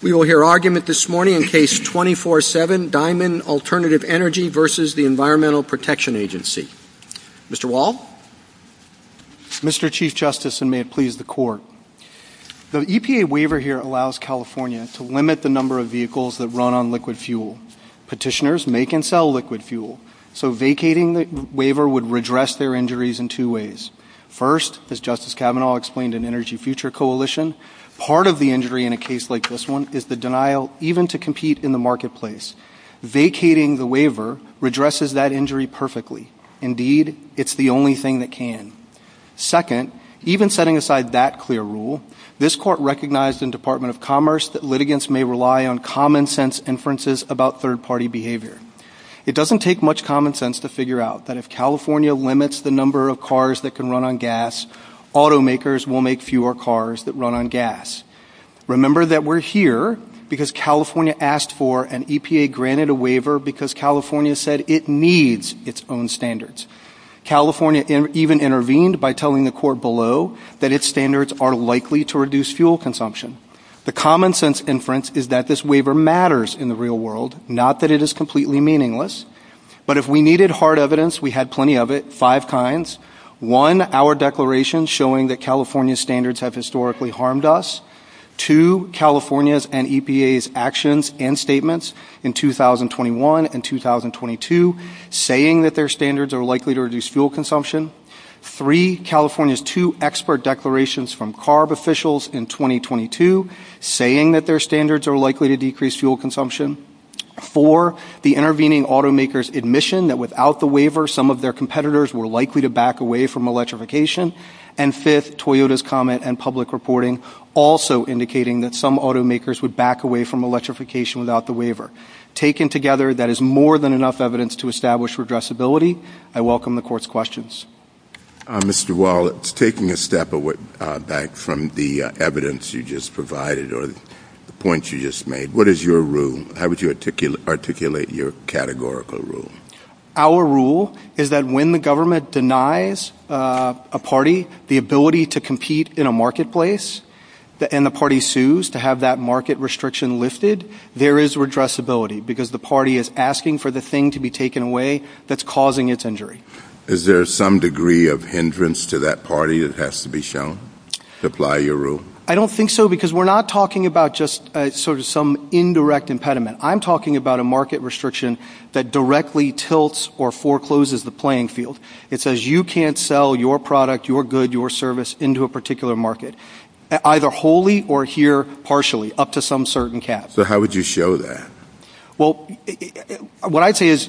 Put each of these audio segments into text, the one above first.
We will hear argument this morning in Case 24-7, Diamond Alternative Energy v. the Environmental Protection Agency. Mr. Wall? Mr. Chief Justice, and may it please the Court, the EPA waiver here allows California to limit the number of vehicles that run on liquid fuel. Petitioners make and sell liquid fuel, so vacating the waiver would redress their injuries in two ways. First, as Justice Kavanaugh explained in Energy Future Coalition, part of the injury in a case like this one is the denial even to compete in the marketplace. Vacating the waiver redresses that injury perfectly. Indeed, it's the only thing that can. Second, even setting aside that clear rule, this Court recognized in Department of Commerce that litigants may rely on common-sense inferences about third-party behavior. It doesn't take much common sense to figure out that if California limits the number of cars that can run on gas, automakers will make fewer cars that run on gas. Remember that we're here because California asked for and EPA granted a waiver because California said it needs its own standards. California even intervened by telling the Court below that its standards are likely to reduce fuel consumption. The common-sense inference is that this waiver matters in the real world, not that it is completely meaningless. But if we needed hard evidence, we had plenty of it, five kinds. One, our declaration showing that California's standards have historically harmed us. Two, California's and EPA's actions and statements in 2021 and 2022 saying that their standards are likely to reduce fuel consumption. Three, California's two expert declarations from CARB officials in 2022 saying that their standards are likely to decrease fuel consumption. Four, the intervening automakers' admission that without the waiver, some of their competitors were likely to back away from electrification. And fifth, Toyota's comment and public reporting also indicating that some automakers would back away from electrification without the waiver. Taken together, that is more than enough evidence to establish redressability. I welcome the Court's questions. Mr. Wall, taking a step back from the evidence you just provided or the points you just made, what is your rule? How would you articulate your categorical rule? Our rule is that when the government denies a party the ability to compete in a marketplace and the party sues to have that market restriction lifted, there is redressability because the party is asking for the thing to be taken away that's causing its injury. Is there some degree of hindrance to that party that has to be shown to apply your rule? I don't think so because we're not talking about just sort of some indirect impediment. I'm talking about a market restriction that directly tilts or forecloses the playing field. It says you can't sell your product, your good, your service into a particular market. Either wholly or here partially, up to some certain cap. So how would you show that? Well, what I'd say is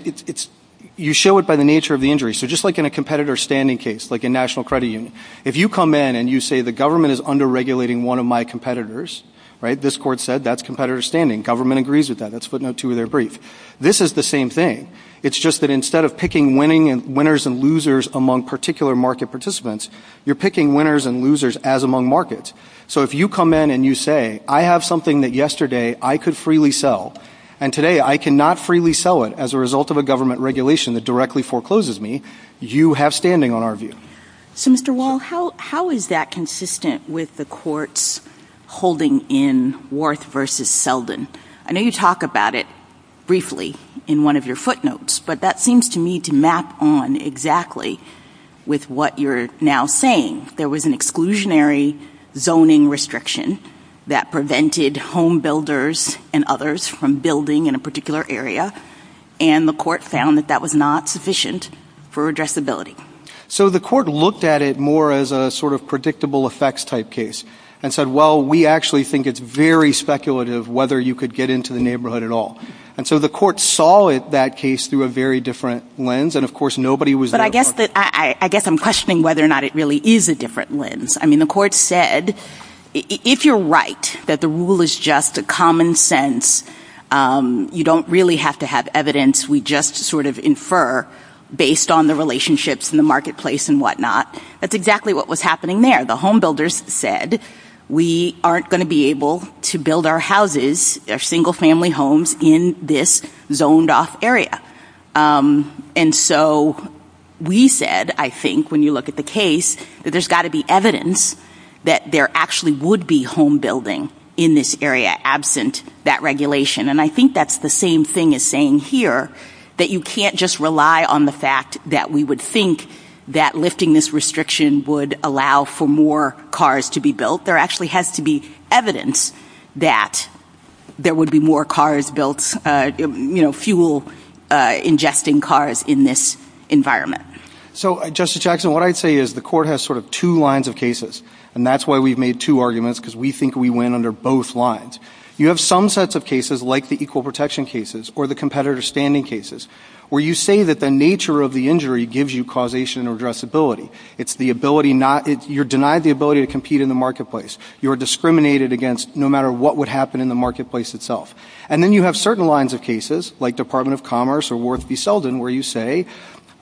you show it by the nature of the injury. So just like in a competitor standing case, like in National Credit Union, if you come in and you say the government is under-regulating one of my competitors, right, this Court said that's competitor standing. Government agrees with that. That's footnote two of their brief. This is the same thing. It's just that instead of picking winners and losers among particular market participants, you're picking winners and losers as among markets. So if you come in and you say I have something that yesterday I could freely sell and today I cannot freely sell it as a result of a government regulation that directly forecloses me, you have standing on our view. So Mr. Wall, how is that consistent with the Court's holding in Worth v. Selden? I know you talk about it briefly in one of your footnotes, but that seems to me to map on exactly with what you're now saying. There was an exclusionary zoning restriction that prevented home builders and others from building in a particular area, and the Court found that that was not sufficient for addressability. So the Court looked at it more as a sort of predictable effects type case and said, well, we actually think it's very speculative whether you could get into the neighborhood at all. And so the Court saw it, that case, through a very different lens, and of course nobody was there. But I guess I'm questioning whether or not it really is a different lens. I mean, the Court said if you're right that the rule is just a common sense, you don't really have to have evidence. We just sort of infer based on the relationships in the marketplace and whatnot. That's exactly what was happening there. The home builders said we aren't going to be able to build our houses, our single family homes, in this zoned-off area. And so we said, I think, when you look at the case, that there's got to be evidence that there actually would be home building in this area absent that regulation. And I think that's the same thing as saying here that you can't just rely on the fact that we would think that lifting this restriction would allow for more cars to be built. There actually has to be evidence that there would be more cars built, you know, fuel-ingesting cars in this environment. So Justice Jackson, what I'd say is the Court has sort of two lines of cases, and that's why we've made two arguments, because we think we win under both lines. You have some sets of cases, like the equal protection cases or the competitor standing cases, where you say that the nature of the injury gives you causation or addressability. It's the ability not ‑‑ you're denied the ability to compete in the marketplace. You are discriminated against no matter what would happen in the marketplace itself. And then you have certain lines of cases, like Department of Commerce or Worth v. Selden, where you say,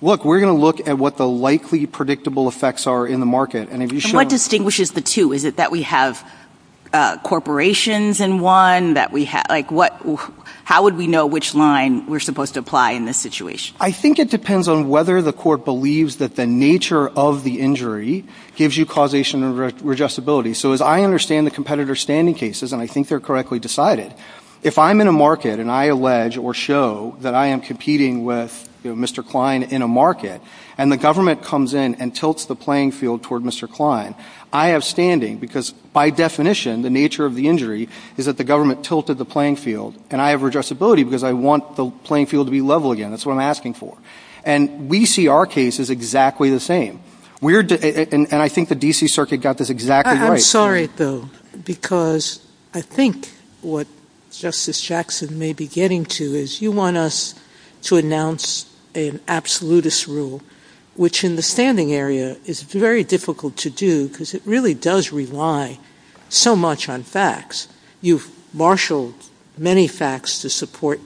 look, we're going to look at what the likely predictable effects are in the market. And what distinguishes the two? Is it that we have corporations in one? Like, how would we know which line we're supposed to apply in this situation? I think it depends on whether the Court believes that the nature of the injury gives you causation or addressability. So as I understand the competitor standing cases, and I think they're correctly decided, if I'm in a market and I allege or show that I am competing with, you know, Mr. Klein in a market, and the government comes in and tilts the playing field toward Mr. Klein, I have standing because, by definition, the nature of the injury is that the government tilted the playing field, and I have addressability because I want the playing field to be level again. That's what I'm asking for. And we see our cases exactly the same. And I think the D.C. Circuit got this exactly right. I'm sorry, though, because I think what Justice Jackson may be getting to is you want us to announce an absolutist rule, which in the standing area is very difficult to do because it really does rely so much on facts. You've marshaled many facts to support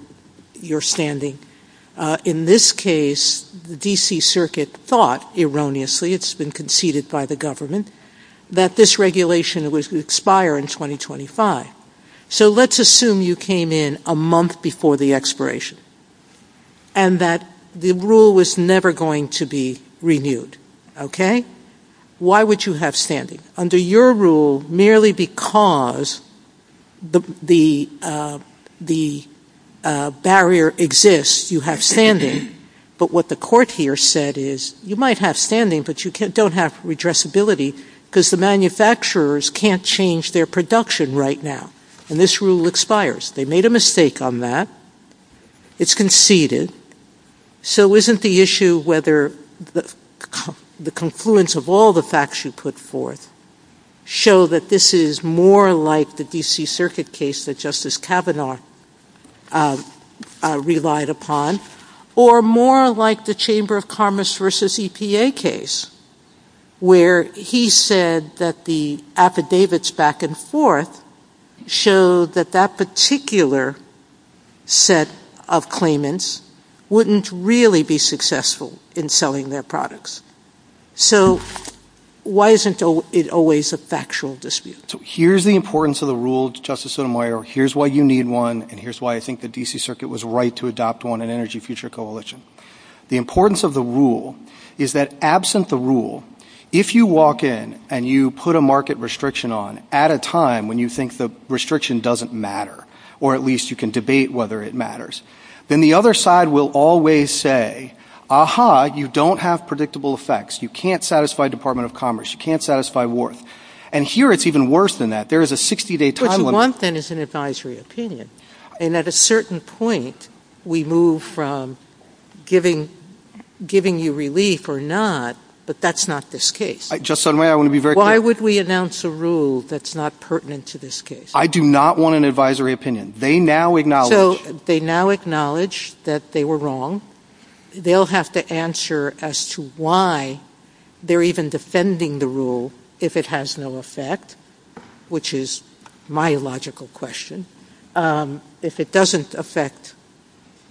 your standing. In this case, the D.C. Circuit thought, erroneously, it's been conceded by the government, that this regulation was going to expire in 2025. So let's assume you came in a month before the expiration and that the rule was never going to be renewed. Okay? Why would you have standing? Under your rule, merely because the barrier exists, you have standing. But what the court here said is, you might have standing, but you don't have redressability because the manufacturers can't change their production right now. And this rule expires. They made a mistake on that. It's conceded. So isn't the issue whether the confluence of all the facts you put forth show that this is more like the D.C. Circuit case that Justice Kavanaugh relied upon, or more like the Chamber of Commerce v. EPA case, where he said that the affidavits back and forth show that that particular set of claimants wouldn't really be successful in selling their products? So why isn't it always a factual dispute? Here's the importance of the rule, Justice Sotomayor. Here's why you need one, and here's why I think the D.C. Circuit was right to adopt one in Energy Future Coalition. The importance of the rule is that absent the rule, if you walk in and you put a market restriction on at a time when you think the restriction doesn't matter, or at least you can debate whether it matters, then the other side will always say, aha, you don't have predictable effects. You can't satisfy Department of Commerce. You can't satisfy Wharton. And here it's even worse than that. There is a 60-day time limit. Something is an advisory opinion. And at a certain point, we move from giving you relief or not, but that's not this case. Justice Sotomayor, I want to be very clear. Why would we announce a rule that's not pertinent to this case? I do not want an advisory opinion. They now acknowledge — So they now acknowledge that they were wrong. They'll have to answer as to why they're even defending the rule if it has no effect, which is my logical question. If it doesn't affect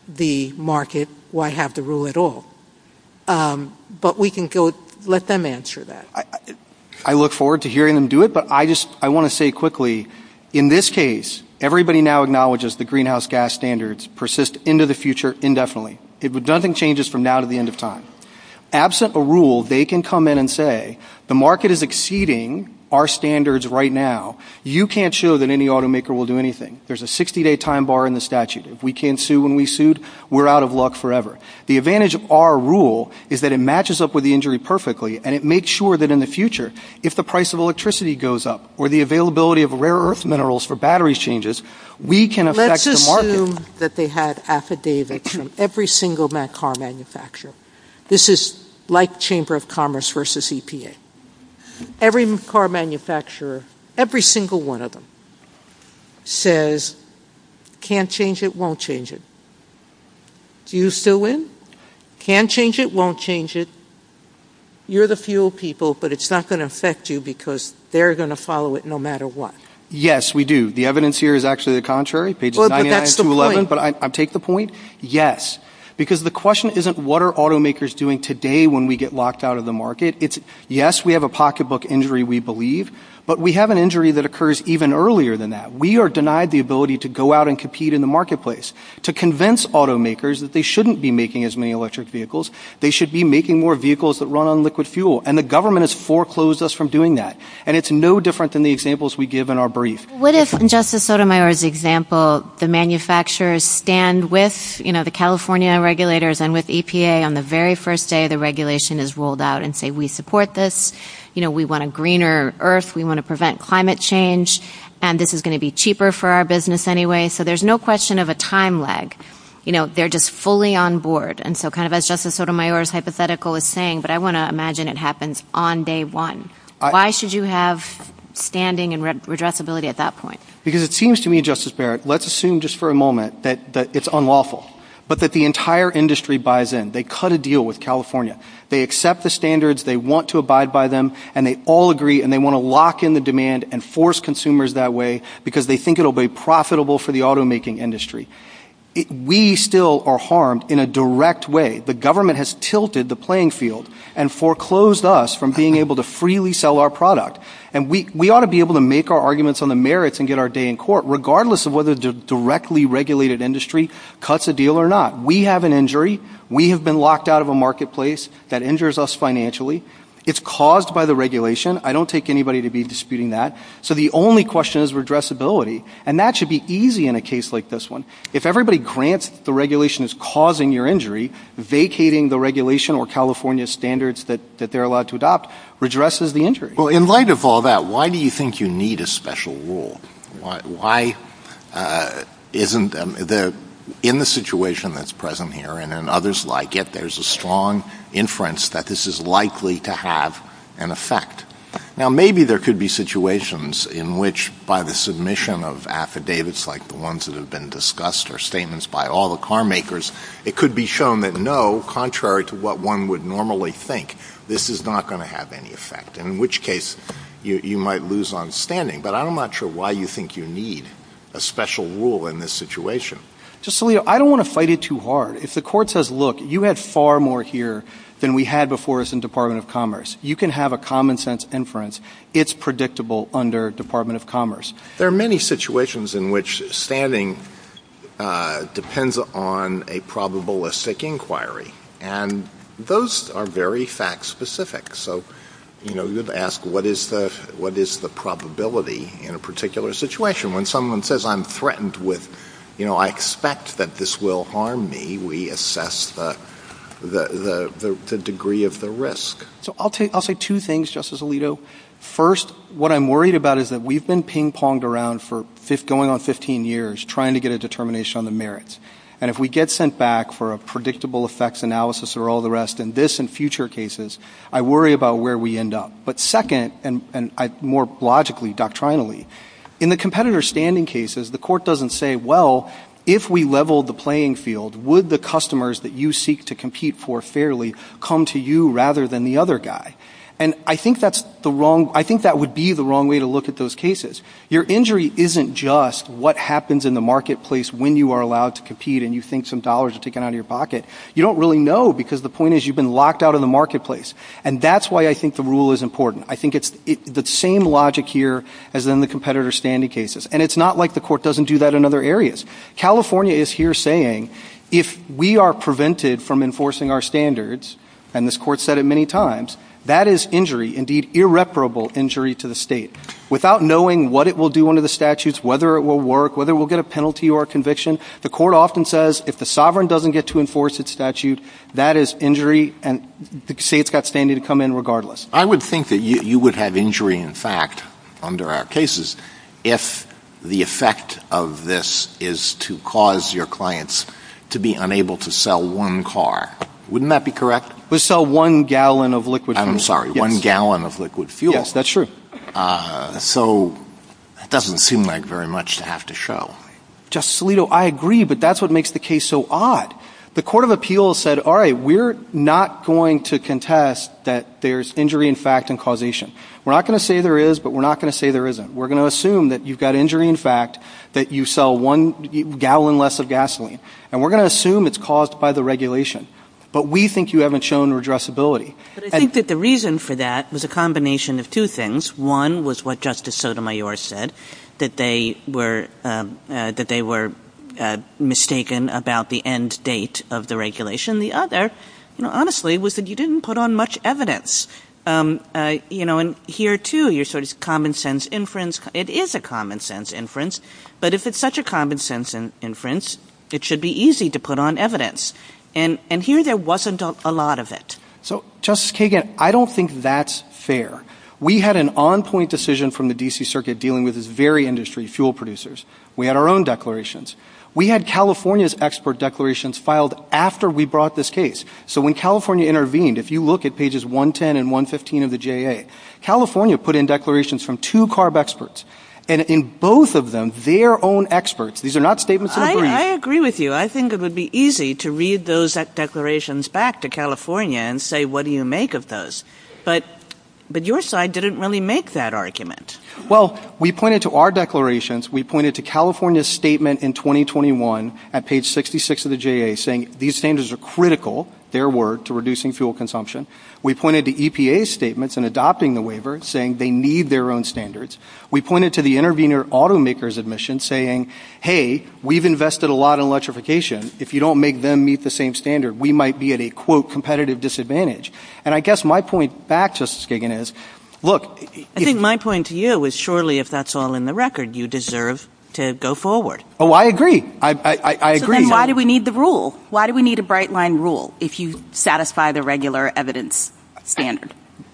the market, why have the rule at all? But we can go — let them answer that. I look forward to hearing them do it, but I just — I want to say quickly, in this case, everybody now acknowledges the greenhouse gas standards persist into the future indefinitely. It would nothing changes from now to the end of time. Absent a rule, they can come in and say, the market is exceeding our standards right now. You can't show that any automaker will do anything. There's a 60-day time bar in the statute. If we can't sue when we sued, we're out of luck forever. The advantage of our rule is that it matches up with the injury perfectly and it makes sure that in the future, if the price of electricity goes up or the availability of rare-earth minerals for battery changes, we can affect the market. Let's assume that they had affidavits from every single car manufacturer. This is like a chamber of commerce versus EPA. Every car manufacturer, every single one of them, says, can't change it, won't change it. Do you still win? Can't change it, won't change it. You're the fuel people, but it's not going to affect you because they're going to follow it no matter what. Yes, we do. The evidence here is actually the contrary, pages 99 to 11, but I take the point. Yes, because the question isn't what are automakers doing today when we get locked out of the market. It's, yes, we have a pocketbook injury, we believe, but we have an injury that occurs even earlier than that. We are denied the ability to go out and compete in the marketplace, to convince automakers that they shouldn't be making as many electric vehicles. They should be making more vehicles that run on liquid fuel, and the government has foreclosed us from doing that, and it's no different than the examples we give in our brief. What if, in Justice Sotomayor's example, the manufacturers stand with the California regulators and with EPA on the very first day the regulation is rolled out and say, we support this, we want a greener earth, we want to prevent climate change, and this is going to be cheaper for our business anyway. So there's no question of a time lag. They're just fully on board. And so kind of as Justice Sotomayor's hypothetical is saying, but I want to imagine it happens on day one. Why should you have standing and redressability at that point? Because it seems to me, Justice Barrett, let's assume just for a moment that it's unlawful, but that the entire industry buys in. They cut a deal with California. They accept the standards, they want to abide by them, and they all agree, and they want to lock in the demand and force consumers that way because they think it will be profitable for the automaking industry. We still are harmed in a direct way. The government has tilted the playing field and foreclosed us from being able to freely sell our product. And we ought to be able to make our arguments on the merits and get our day in court, regardless of whether the directly regulated industry cuts a deal or not. We have an injury. We have been locked out of a marketplace that injures us financially. It's caused by the regulation. I don't take anybody to be disputing that. So the only question is redressability. And that should be easy in a case like this one. If everybody grants that the regulation is causing your injury, vacating the regulation or California standards that they're allowed to adopt redresses the injury. Well, in light of all that, why do you think you need a special rule? Why isn't the ‑‑ in the situation that's present here and in others like it, there's a strong inference that this is likely to have an effect. Now, maybe there could be situations in which by the submission of affidavits like the ones that have been discussed or statements by all the car makers, it could be shown that, no, contrary to what one would normally think, this is not going to have any effect, in which case you might lose on standing. But I'm not sure why you think you need a special rule in this situation. Justice Alito, I don't want to fight it too hard. If the court says, look, you had far more here than we had before us in Department of Commerce, you can have a common sense inference. It's predictable under Department of Commerce. There are many situations in which standing depends on a probabilistic inquiry. And those are very fact specific. So, you know, you have to ask what is the probability in a particular situation. When someone says I'm threatened with, you know, I expect that this will harm me, we assess the degree of the risk. So I'll say two things, Justice Alito. First, what I'm worried about is that we've been ping ponged around for going on 15 years trying to get a determination on the merits. And if we get sent back for a predictable effects analysis or all the rest in this and future cases, I worry about where we end up. But second, and more logically, doctrinally, in the competitor standing cases, the court doesn't say, well, if we level the playing field, would the customers that you seek to compete for fairly come to you rather than the other guy? And I think that's the wrong way to look at those cases. Your injury isn't just what happens in the marketplace when you are allowed to compete and you think some dollars are taken out of your pocket. You don't really know because the point is you've been locked out of the marketplace. And that's why I think the rule is important. I think it's the same logic here as in the competitor standing cases. And it's not like the court doesn't do that in other areas. California is here saying if we are prevented from enforcing our standards, and this court has said it many times, that is injury, indeed irreparable injury to the state. Without knowing what it will do under the statutes, whether it will work, whether it will get a penalty or a conviction, the court often says if the sovereign doesn't get to enforce its statute, that is injury and the state's got standing to come in regardless. I would think that you would have injury in fact under our cases if the effect of this is to cause your clients to be unable to sell one car. Wouldn't that be correct? We sell one gallon of liquid fuel. I'm sorry, one gallon of liquid fuel. Yes, that's true. So that doesn't seem like very much to have to show. Justice Alito, I agree, but that's what makes the case so odd. The court of appeals said, all right, we're not going to contest that there's injury in fact and causation. We're not going to say there is, but we're not going to say there isn't. We're going to assume that you've got injury in fact, that you sell one gallon less of gasoline. And we're going to assume it's caused by the regulation, but we think you haven't shown redressability. But I think that the reason for that was a combination of two things. One was what Justice Sotomayor said, that they were mistaken about the end date of the regulation. The other, you know, honestly, was that you didn't put on much evidence. You know, and here too, you're sort of common sense inference. It is a common sense inference, but if it's such a common sense inference, it should be easy to put on evidence. And here there wasn't a lot of it. So Justice Kagan, I don't think that's fair. We had an on-point decision from the D.C. Circuit dealing with this very industry, fuel producers. We had our own declarations. We had California's expert declarations filed after we brought this case. So when California intervened, if you look at pages 110 and 115 of the J.A., California put in declarations from two CARB experts, and in both of them, their own experts. These are not statements of agreement. I agree with you. I think it would be easy to read those declarations back to California and say, what do you make of those? But your side didn't really make that argument. Well, we pointed to our declarations. We pointed to California's statement in 2021 at page 66 of the J.A. saying these standards are critical, their word, to reducing fuel consumption. We pointed to EPA's statements in adopting the waiver saying they need their own standards. We pointed to the intervener automaker's admission saying, hey, we've invested a lot in electrification. If you don't make them meet the same standard, we might be at a, quote, competitive disadvantage. And I guess my point back, Justice Kagan, is, look, if I think my point to you is, surely, if that's all in the record, you deserve to go forward. Oh, I agree. I agree. So then why do we need the rule? Why do we need a bright-line rule if you satisfy the evidence standard?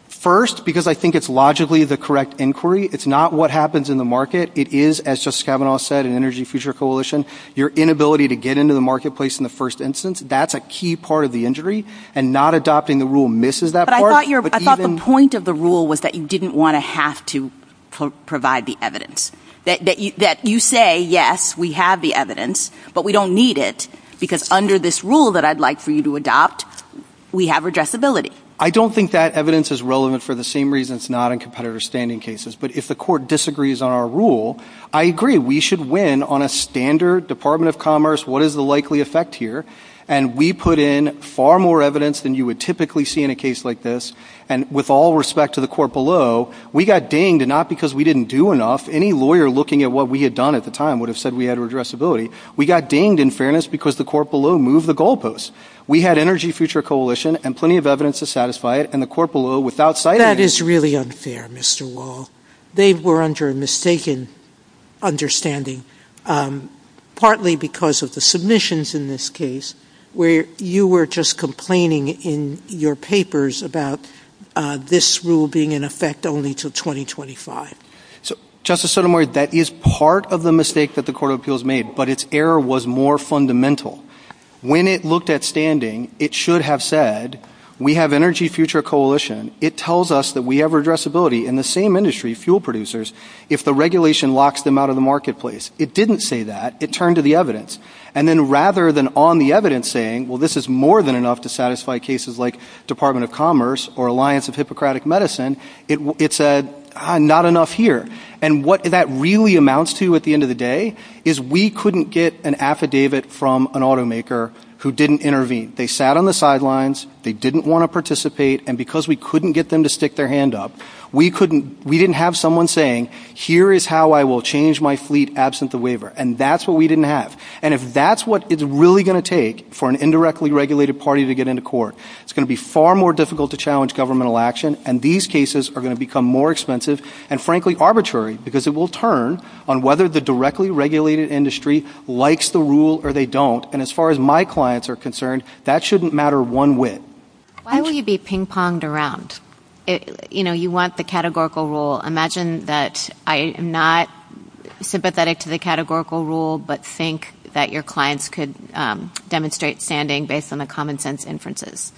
First, because I think it's logically the correct inquiry. It's not what happens in the market. It is, as Justice Kavanaugh said in Energy Future Coalition, your inability to get into the marketplace in the first instance. That's a key part of the injury. And not adopting the rule misses that part. But I thought the point of the rule was that you didn't want to have to provide the evidence. That you say, yes, we have the evidence, but we don't need it, because under this rule that I'd like for you to adopt, we have redressability. I don't think that evidence is relevant for the same reason it's not in competitive standing cases. But if the court disagrees on our rule, I agree. We should win on a standard Department of Commerce. What is the likely effect here? And we put in far more evidence than you would typically see in a case like this. And with all respect to the court below, we got dinged, not because we didn't do enough. Any lawyer looking at what we had done at the time would have said we had redressability. We got dinged in fairness because the court below moved the goalposts. We had Energy Future Coalition and plenty of evidence to satisfy it. And the court below, without citing it... That is really unfair, Mr. Wall. They were under a mistaken understanding, partly because of the submissions in this case, where you were just complaining in your papers about this rule being in effect only till 2025. So, Justice Sotomayor, that is part of the mistake that the Court of Appeals made, but its error was more fundamental. When it looked at standing, it should have said, we have Energy Future Coalition, it tells us that we have redressability in the same industry, fuel producers, if the regulation locks them out of the marketplace. It didn't say that. It turned to the evidence. And then rather than on the evidence saying, well, this is more than enough to satisfy cases like Department of Commerce or Alliance of Hippocratic Medicine, it said, not enough here. And what that really amounts to at the end of the day is we couldn't get an affidavit from an automaker who didn't intervene. They sat on the sidelines. They didn't want to participate. And because we couldn't get them to stick their hand up, we didn't have someone saying, here is how I will change my fleet absent the waiver. And that's what we didn't have. And if that's what it's really going to take for an indirectly regulated party to get into court, it's going to be far more difficult to challenge governmental action. And these cases are going become more expensive, and frankly, arbitrary, because it will turn on whether the directly regulated industry likes the rule or they don't. And as far as my clients are concerned, that shouldn't matter one whit. Why will you be ping-ponged around? You want the categorical rule. Imagine that I am not sympathetic to the categorical rule, but think that your clients could demonstrate standing based on the common sense inferences.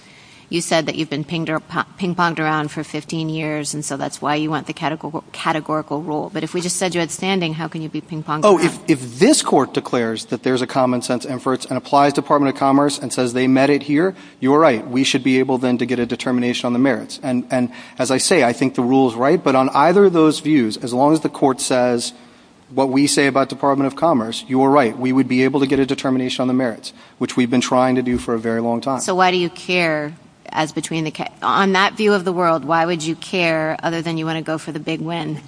You said that you've been ping-ponged around for 15 years, and so that's why you want the categorical rule. But if we just said you had standing, how can you be ping-ponged around? Oh, if this court declares that there's a common sense inference and applies Department of Commerce and says they met it here, you're right. We should be able then to get a determination on the merits. And as I say, I think the rule is right. But on either of those views, as long as the court says what we say about Department of Commerce, you're right. We would be able to get a determination on the merits, which we've been trying to do for a very long time. Why do you care? On that view of the world, why would you care other than you want to go for the big win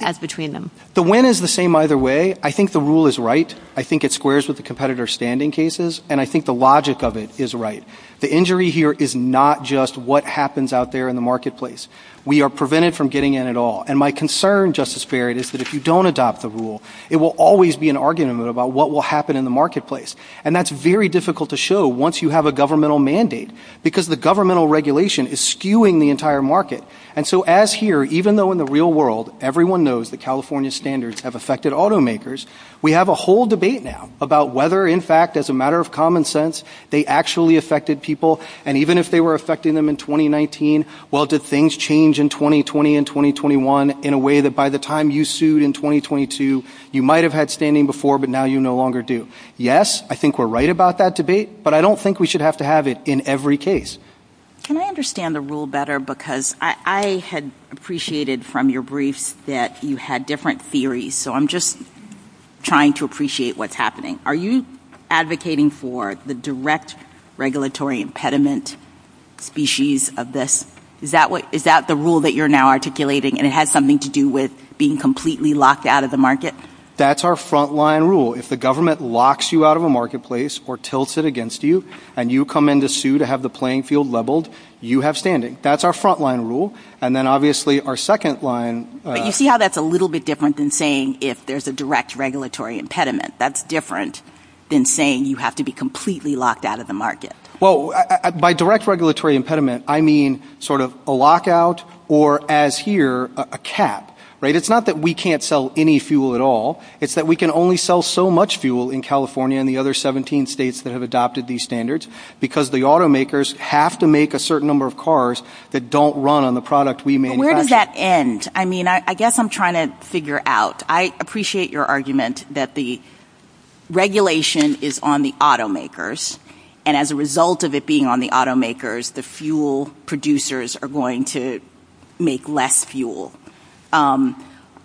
as between them? The win is the same either way. I think the rule is right. I think it squares with the competitor's standing cases, and I think the logic of it is right. The injury here is not just what happens out there in the marketplace. We are prevented from getting in at all. And my concern, Justice Farrad, is that if you don't adopt the rule, it will always be an argument about what will happen in the marketplace. And that's very difficult to show once you have a governmental mandate, because the governmental regulation is skewing the entire market. And so as here, even though in the real world, everyone knows that California standards have affected automakers, we have a whole debate now about whether, in fact, as a matter of common sense, they actually affected people. And even if they were affecting them in 2019, well, did things change in 2020 and 2021 in a way that by the time you sued in 2022, you might have had standing before, but now you no longer do? Yes, I think we're right about that debate, but I don't think we should have to have it in every case. Can I understand the rule better? Because I had appreciated from your briefs that you had different theories. So I'm just trying to appreciate what's happening. Are you advocating for the direct regulatory impediment species of this? Is that what is that the rule that you're now articulating and it has something to do with being completely locked out of the market? That's our frontline rule. If the government locks you out of a marketplace or tilts it against you, and you come in to sue to have the playing field leveled, you have standing. That's our frontline rule. And then obviously our second line. But you see how that's a little bit different than saying if there's a direct regulatory impediment. That's different than saying you have to be completely locked out of the market. Well, by direct regulatory impediment, I mean sort of a lockout or as here, a cap, right? It's not that we can't sell any fuel at all. It's that we can only sell so much fuel in California and the other 17 states that have adopted these standards because the automakers have to make a certain number of cars that don't run on the product we made. Where does that end? I mean, I guess I'm trying to figure out. I appreciate your argument that the regulation is on the automakers. And as a result of it being on the automakers, the fuel producers are going to make less fuel.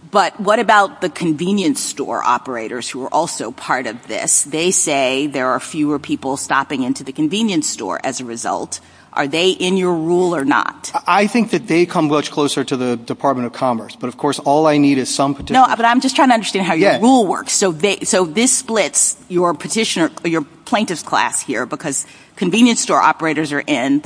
But what about the convenience store operators who are also part of this? They say there are fewer people stopping into the convenience store as a result. Are they in your rule or not? I think that they come much closer to the Department of Commerce. But of course, all I need is some petitioner. But I'm just trying to understand how your rule works. So this splits your petitioner, your plaintiff's class here, because convenience store operators are in,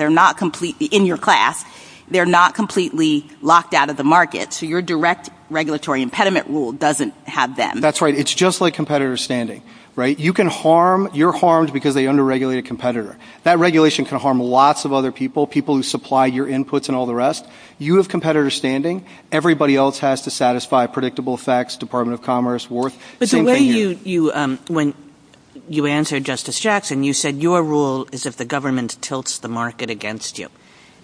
in your class. They're not completely locked out of the market. So your direct regulatory impediment rule doesn't have them. That's right. It's just like competitor standing, right? You can harm, you're harmed because they under-regulated a competitor. That regulation can harm lots of other people, people who supply your inputs and all the rest. You have competitor standing. Everybody else has to satisfy predictable effects, Department of Commerce, Wharton. But the way you, when you answered Justice Jackson, you said your rule is if the government tilts the market against you.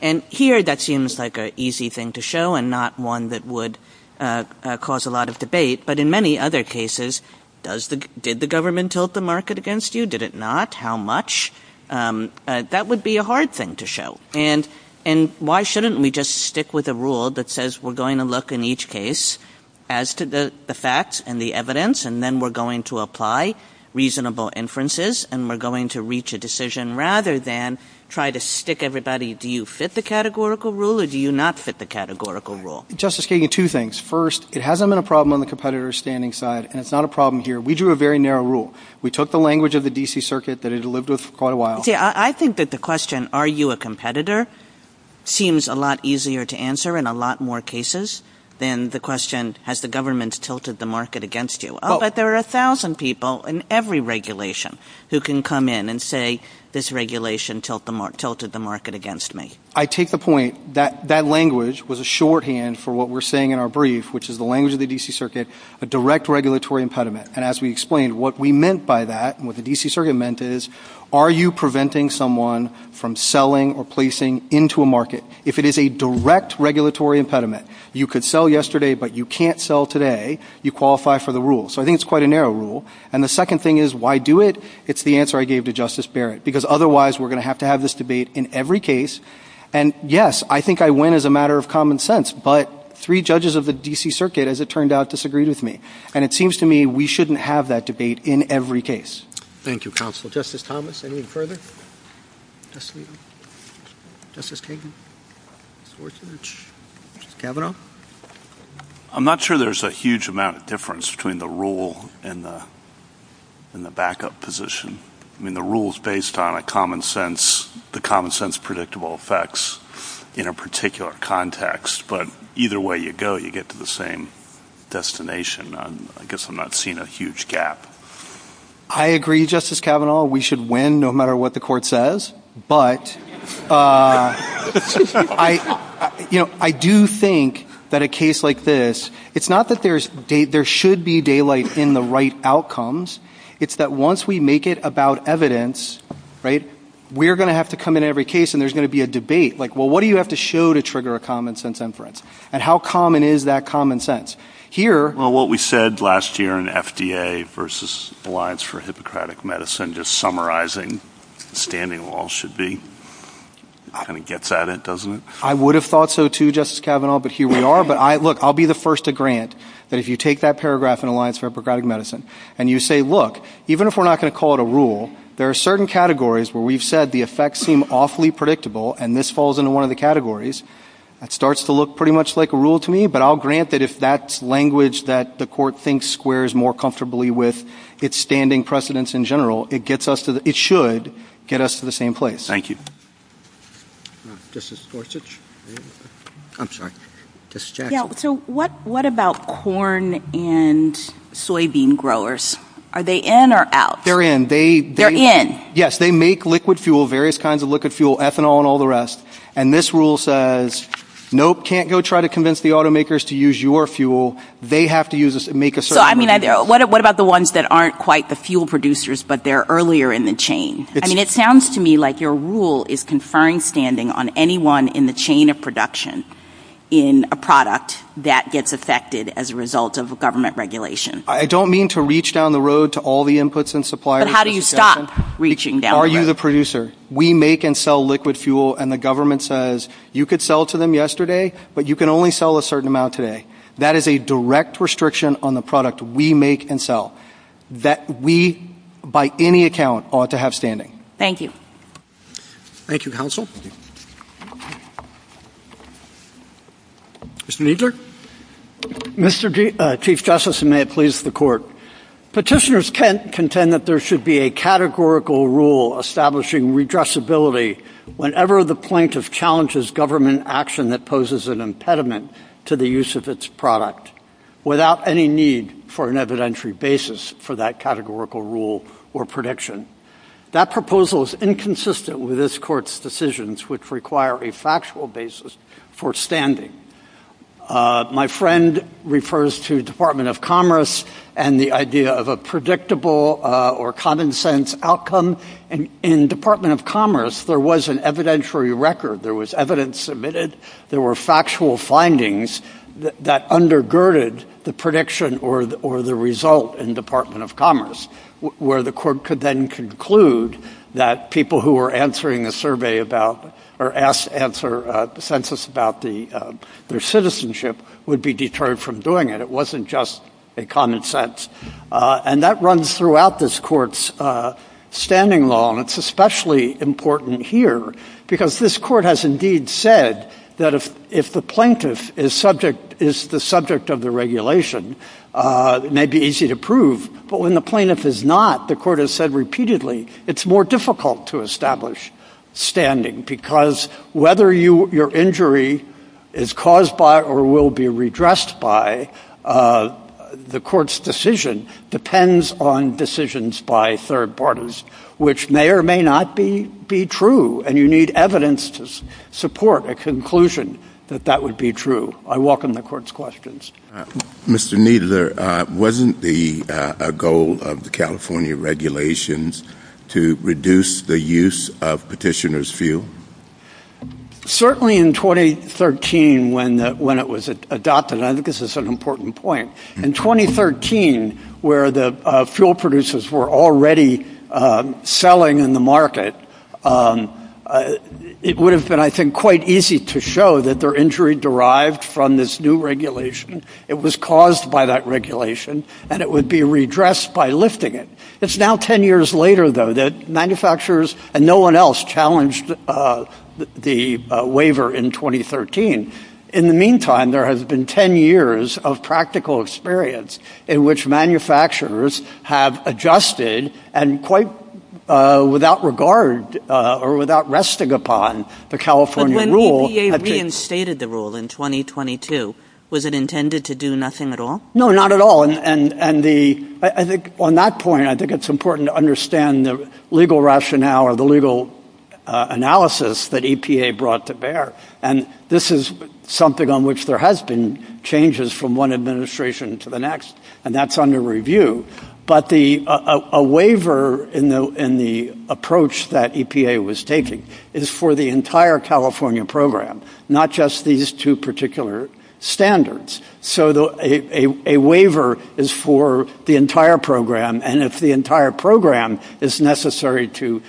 And here, that seems like an easy thing to show and not one that would cause a lot of debate. But in many other cases, does the, did the government tilt the market against you? Did it not? How much? That would be a hard thing to show. And, and why shouldn't we just stick with a rule that says we're going to look in each case as to the facts and the evidence, and then we're going to apply reasonable inferences, and we're going to reach a decision rather than try to stick everybody. Do you fit the categorical rule or do you not fit the categorical rule? Justice Kagan, two things. First, it hasn't been a problem on the competitor standing side, and it's not a problem here. We drew a very narrow rule. We took the language of the D.C. Circuit that it had lived with for quite a while. See, I think that the question, are you a competitor, seems a lot easier to answer in a lot more cases than the question, has the government tilted the market against you? But there are a thousand people in every regulation who can come in and say this regulation tilted the market against me. I take the point that that language was a shorthand for what we're saying in our brief, which is the language of the D.C. Circuit, a direct regulatory impediment. And as we explained, what we meant by that and what the D.C. Circuit meant is, are you preventing someone from selling or placing into a market? If it is a direct regulatory impediment, you could sell yesterday, but you can't sell today. You qualify for the rule. So I think it's quite a narrow rule. And the second thing is, why do it? It's the answer I gave to Justice Barrett. Because otherwise, we're going to have to have this debate in every case. And, yes, I think I win as a matter of common sense, but three judges of the D.C. Circuit, as it turned out, disagreed with me. And it seems to me we shouldn't have that debate in every case. Thank you, Counsel. Justice Thomas, anything further? Justice Kagan? Justice Kavanaugh? I'm not sure there's a huge amount of difference between the rule and the backup position. I mean, the rule is based on a common sense, the common sense predictable effects in a particular context. But either way you go, you get to the same destination. I guess I'm not seeing a huge gap. I agree, Justice Kavanaugh. We should win no matter what the court says. But I do think that a case like this, it's not that there should be daylight in the right outcomes. It's that once we make it about evidence, we're going to have to come in every case and there's going to be a debate. Like, well, what do you have to show to trigger a common sense inference? And how common is that common sense? Well, what we said last year in FDA versus Alliance for Hippocratic Medicine, just summarizing standing walls should be, kind of gets at it, doesn't it? I would have thought so too, Justice Kavanaugh, but here we are. But look, I'll be the first to grant that if you take that paragraph in Alliance for Hippocratic Medicine and you say, look, even if we're not going to call it a rule, there are certain categories where we've said the effects seem awfully predictable and this falls into one of the that the court thinks squares more comfortably with its standing precedence in general. It should get us to the same place. Thank you. Justice Gorsuch. I'm sorry. Justice Jackson. So what about corn and soybean growers? Are they in or out? They're in. They... They're in. Yes, they make liquid fuel, various kinds of liquid fuel, ethanol and all the rest. And this rule says, nope, can't go try to convince the automakers to use your fuel. They have to use us and make a certain... So I mean, what about the ones that aren't quite the fuel producers, but they're earlier in the chain? I mean, it sounds to me like your rule is conferring standing on anyone in the chain of production in a product that gets affected as a result of government regulation. I don't mean to reach down the road to all the inputs and suppliers... But how do you stop reaching down the road? Are you the producer? We make and sell liquid fuel and the government says, you could sell to them yesterday, but you can only sell a certain amount today. That is a direct restriction on the product we make and sell that we, by any account, ought to have standing. Thank you. Thank you, counsel. Mr. Kneedler. Mr. Chief Justice, and may it please the court. Petitioners can't contend that there should be a categorical rule establishing redressability whenever the plaintiff challenges government action that poses an impediment to the use of its product without any need for an evidentiary basis for that categorical rule or prediction. That proposal is inconsistent with this court's decisions, which require a factual basis for standing. My friend refers to the Department of Commerce and the idea of a predictable or common sense outcome. In the Department of Commerce, there was an evidentiary record. There was evidence submitted. There were factual findings that undergirded the prediction or the result in the Department of Commerce, where the court could then conclude that people who were answering a survey about or asked to answer a census about their citizenship would be deterred from doing it. It wasn't just a common sense. And that runs throughout this court's standing law, and it's especially important here because this court has indeed said that if the plaintiff is the subject of the regulation, it may be easy to prove. But when the plaintiff is not, the court has said repeatedly, it's more difficult to establish standing because whether your injury is caused by or will be redressed by the court's decision depends on decisions by third parties, which may or may not be true. And you need evidence to support a conclusion that that would be true. I welcome the court's questions. Mr. Kneedler, wasn't the goal of the California regulations to reduce the use of petitioner's Certainly in 2013 when it was adopted. I think this is an important point. In 2013, where the fuel producers were already selling in the market, it would have been, I think, quite easy to show that their injury derived from this new regulation. It was caused by that regulation, and it would be redressed by lifting it. It's now 10 years later, though, that manufacturers and no one else challenged the waiver in 2013. In the meantime, there has been 10 years of practical experience in which manufacturers have adjusted and quite without regard or without resting upon the California rule. But when EPA reinstated the rule in 2022, was it intended to do nothing at all? No, not at all. On that point, I think it's important to understand the legal rationale or the legal analysis that EPA brought to bear. And this is something on which there has been changes from one administration to the next, and that's under review. But a waiver in the approach that EPA was taking is for the entire California program, not just these two particular standards. So a waiver is for the entire program. And if the entire program is necessary to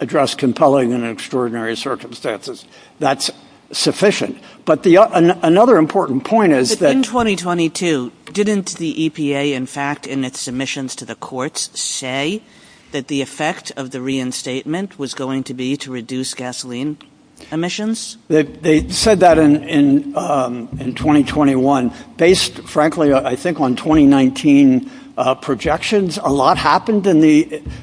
address compelling and extraordinary circumstances, that's sufficient. But another important point is that... In 2022, didn't the EPA, in fact, in its submissions to the courts, say that the effect of the reinstatement was going to be to reduce gasoline emissions? They said that in 2021. Based, frankly, I think on 2019 projections, a lot happened,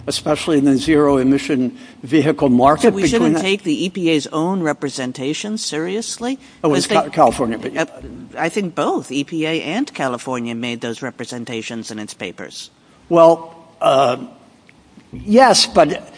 especially in the zero emission vehicle market. We shouldn't take the EPA's own representation seriously. I think both EPA and California made those representations in its papers. Well, yes, but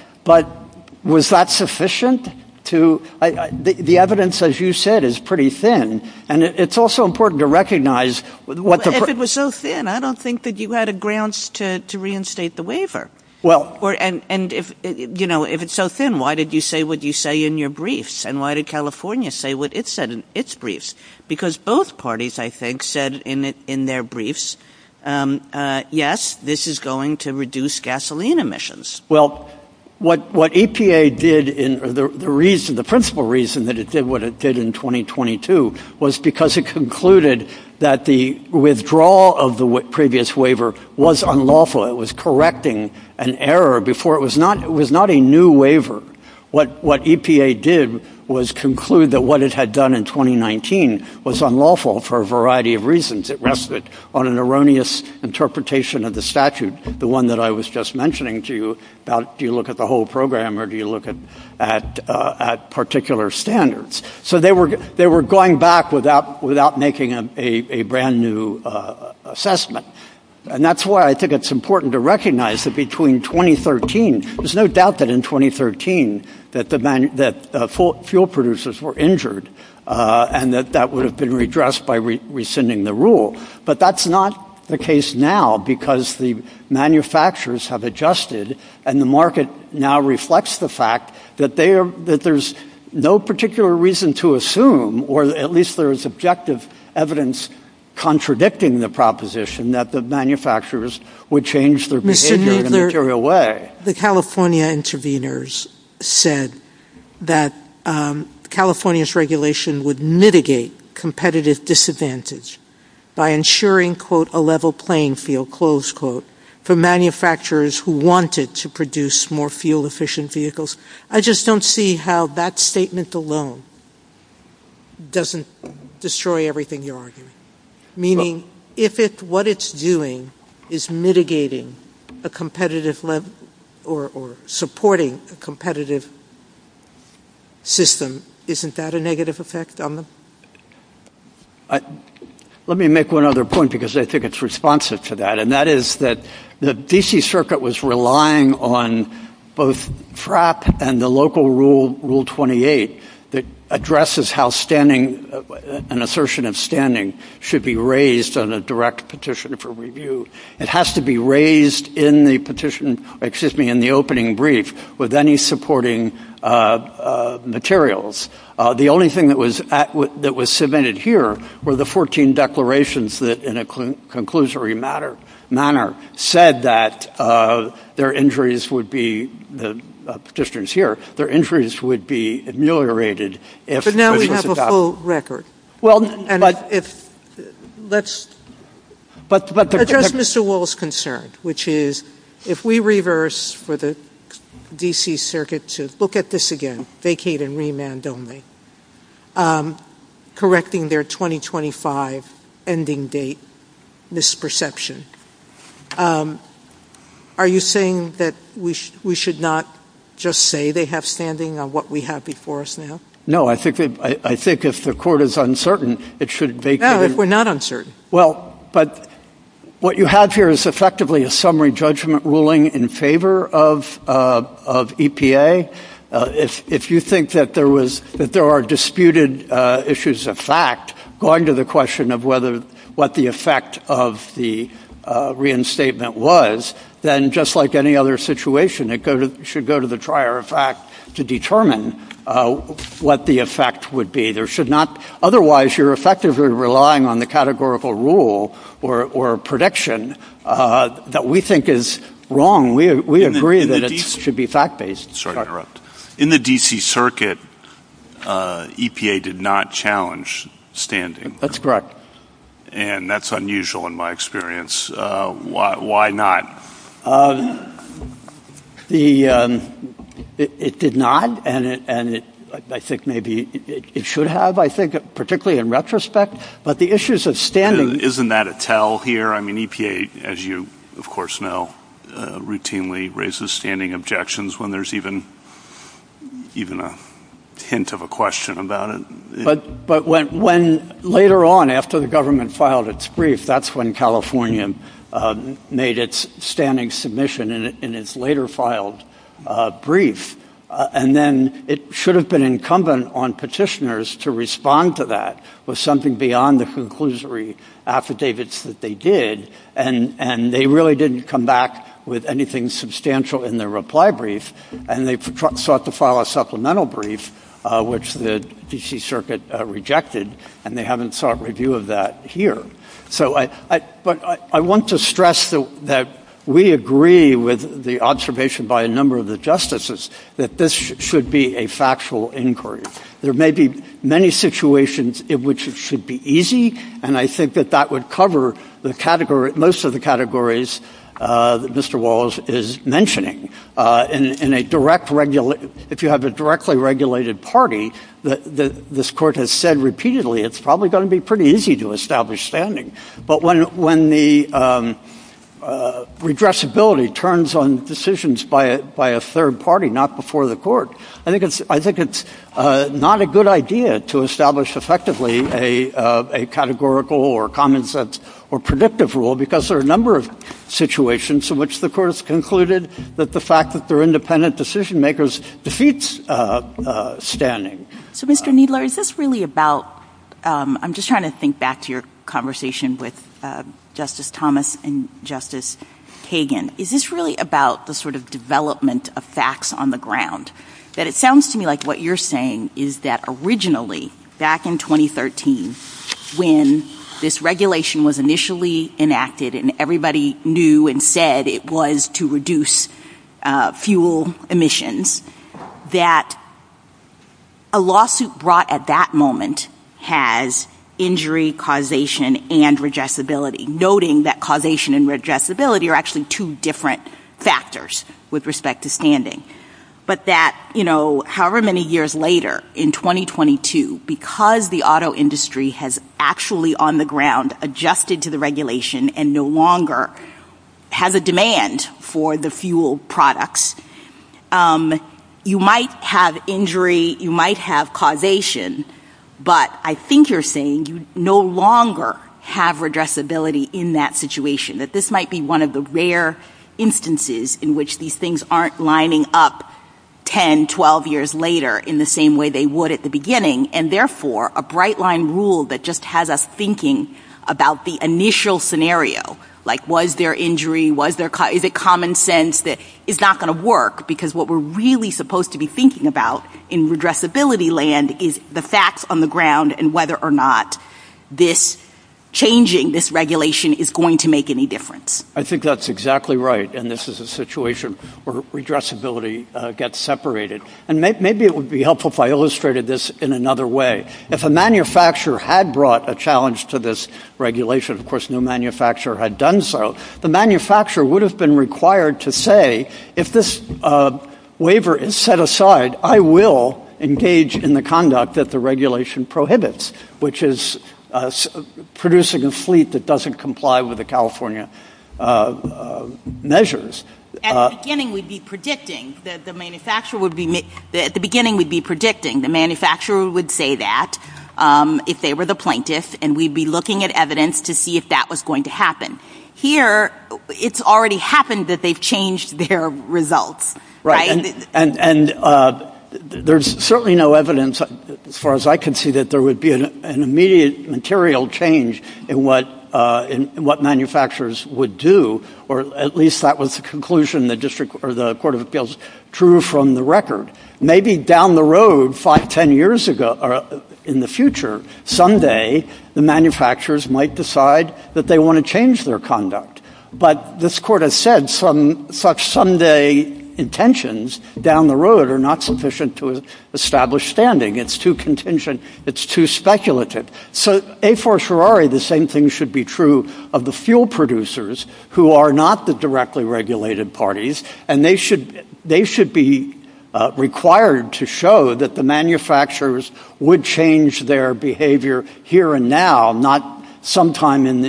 was that sufficient? The evidence, as you said, is pretty thin. And it's also important to recognize... If it was so thin, I don't think that you had a grounds to reinstate the waiver. And if it's so thin, why did you say what you say in your briefs? And why did California say what it said in its briefs? Because both parties, I think, said in their briefs, yes, this is going to reduce gasoline emissions. Well, what EPA did, the principal reason that it did what it did in 2022, was because it concluded that the withdrawal of the previous waiver was unlawful. It was correcting an error before. It was not a new waiver. What EPA did was conclude that what it had done in 2019 was unlawful for a variety of reasons. It rested on an erroneous interpretation of the statute, the one that I was just mentioning to you about, do you look at the whole program or do you look at particular standards? So they were going back without making a brand new assessment. And that's why I think it's important to recognize that between 2013, there's no doubt that in 2013 that the fuel producers were injured and that that would have been redressed by rescinding the rule. But that's not the case now because the manufacturers have adjusted and the market now reflects the fact that there's no particular reason to assume, or at least there is objective evidence contradicting the proposition, that the manufacturers would change their behavior in a material way. The California intervenors said that California's regulation would mitigate competitive disadvantage by ensuring, quote, a level playing field, close quote, for manufacturers who wanted to produce more fuel efficient vehicles. I just don't see how that statement alone doesn't destroy everything you're arguing. Meaning if what it's doing is mitigating a competitive level or supporting a competitive system, isn't that a negative effect on them? Let me make one other point because I think it's responsive to that. The D.C. Circuit was relying on both FRAP and the local Rule 28 that addresses how an assertion of standing should be raised on a direct petition for review. It has to be raised in the opening brief with any supporting materials. The only thing that was submitted here were the 14 declarations that in a manner said that their injuries would be, the petitioner's here, their injuries would be ameliorated if this was adopted. But now we have a full record. Address Mr. Wall's concern, which is if we reverse for the D.C. Circuit to look at this again, vacate and remand only. Correcting their 2025 ending date misperception. Are you saying that we should not just say they have standing on what we have before us now? No, I think if the court is uncertain, it should vacate. No, if we're not uncertain. Well, but what you have here is effectively a summary judgment ruling in favor of EPA. If you think that there are disputed issues of fact going to the question of whether, what the effect of the reinstatement was, then just like any other situation, it should go to the trier of fact to determine what the effect would be. There should not, otherwise you're effectively relying on the categorical rule or prediction that we think is wrong. We agree that it should be fact-based. In the D.C. Circuit, EPA did not challenge standing. That's correct. And that's unusual in my experience. Why not? It did not, and I think maybe it should have, I think, particularly in retrospect. Isn't that a tell here? I mean, EPA, as you of course know, routinely raises standing objections when there's even a hint of a question about it. But when later on, after the government filed its brief, that's when California made its standing submission in its later filed brief. And then it should have been incumbent on petitioners to respond to that with something beyond the conclusory affidavits that they did. And they really didn't come back with anything substantial in their reply brief, and they sought to file a supplemental brief, which the D.C. Circuit rejected, and they haven't sought review of that here. But I want to stress that we agree with the observation by a number of the justices that this should be a factual inquiry. There may be many situations in which it should be easy, and I think that that would cover most of the categories that Mr. Walls is mentioning. If you have a directly regulated party, this Court has said repeatedly, it's probably going to be pretty easy to establish standing. But when the redressability turns on decisions by a third party, not before the Court, I think it's not a good idea to establish effectively a categorical or common sense or predictive rule, because there are a number of situations in which the Court has concluded that the fact that they're independent decision-makers defeats standing. So, Mr. Kneedler, is this really about — I'm just trying to think back to your conversation with Justice Thomas and Justice Kagan. Is this really about the sort of development of facts on the ground? It sounds to me like what you're saying is that originally, back in 2013, when this regulation was initially enacted and everybody knew and said it was to reduce fuel emissions, that a lawsuit brought at that moment has injury causation and redressability, noting that causation and redressability are actually two different factors with respect to standing, but that, you know, however many years later, in 2022, because the auto industry has actually on the ground adjusted to the regulation and no longer has a demand for the fuel products, you might have injury, you might have causation, but I think you're saying you no longer have redressability in that situation, that this might be one of the rare instances in which these things aren't lining up 10, 12 years later in the same way they would at the beginning and, therefore, a bright-line rule that just has us thinking about the initial scenario, like was there injury, was there — is it common sense that it's not going to work because what we're really supposed to be thinking about in redressability land is the facts on the ground and whether or not this changing, this regulation, is going to make any difference. I think that's exactly right, and this is a situation where redressability gets separated, and maybe it would be helpful if I illustrated this in another way. If a manufacturer had brought a challenge to this regulation, of course no manufacturer had done so, the manufacturer would have been required to say, if this waiver is set aside, I will engage in the conduct that regulation prohibits, which is producing a fleet that doesn't comply with the California measures. At the beginning, we'd be predicting that the manufacturer would be — at the beginning, we'd be predicting the manufacturer would say that if they were the plaintiff, and we'd be looking at evidence to see if that was going to happen. Here, it's already happened that they've results, right? And there's certainly no evidence, as far as I can see, that there would be an immediate material change in what manufacturers would do, or at least that was the conclusion the District — or the Court of Appeals drew from the record. Maybe down the road, 5, 10 years ago, or in the future, someday, the manufacturers might decide that they want to change their conduct, but this Court has said such someday intentions, down the road, are not sufficient to establish standing. It's too contingent. It's too speculative. So, A for Ferrari, the same thing should be true of the fuel producers, who are not the directly regulated parties, and they should be required to show that the manufacturers would change their behavior here and now, not sometime in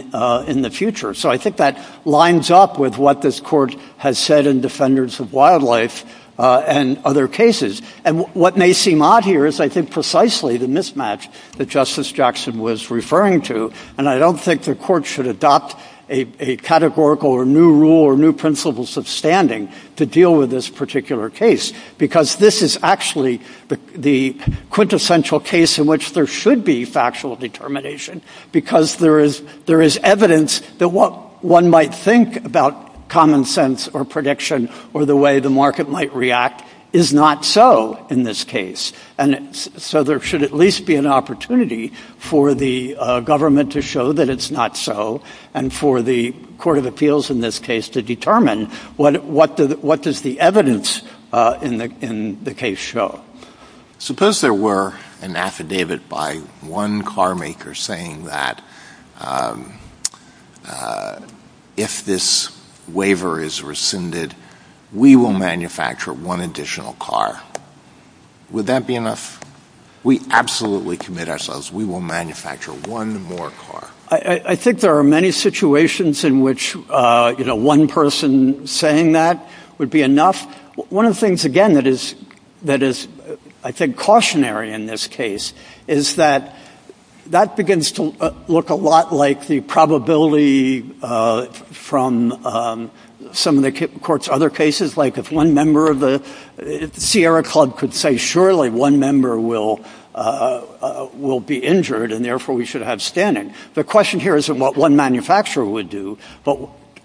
the future. So, I think that lines up with what this Court has said in Defenders of Wildlife and other cases. And what may seem odd here is, I think, precisely the mismatch that Justice Jackson was referring to, and I don't think the Court should adopt a categorical or new rule or new principles of standing to deal with this particular case, because this is actually the quintessential case in which there should be factual determination, because there is evidence that what one might think about common sense or prediction or the way the market might react is not so in this case. And so, there should at least be an opportunity for the government to show that it's not so, and for the Court of Appeals, in this case, to determine what does the evidence in the case show. Suppose there were an affidavit by one carmaker saying that, if this waiver is rescinded, we will manufacture one additional car. Would that be enough? We absolutely commit ourselves, we will manufacture one more car. I think there are many situations in which, you know, one person saying that would be enough. One of the things, again, that is, I think, cautionary in this case is that that begins to look a lot like the probability from some of the Court's other cases, like if one member of the Sierra Club could say, surely one member will be injured, and therefore we should have standing. The question here isn't what one manufacturer would do, but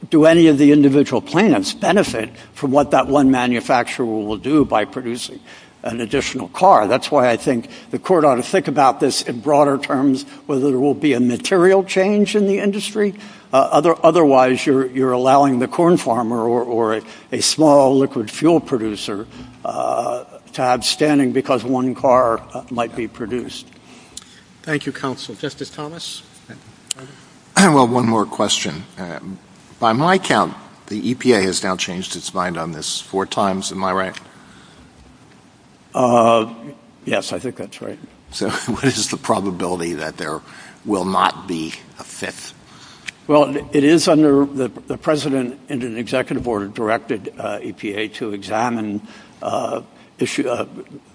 do any of the individual plaintiffs benefit from what that one manufacturer will do by producing an additional car? That's why I think the Court ought to think about this in broader terms, whether there will be a material change in the industry. Otherwise, you're allowing the corn farmer or a small liquid fuel producer to have standing because one car might be produced. Thank you, counsel. Justice Thomas? Well, one more question. By my count, the EPA has now changed its mind on this four times, am I right? Yes, I think that's right. So what is the probability that there will not be a fifth? Well, it is under the precedent in an executive order directed EPA to examine issue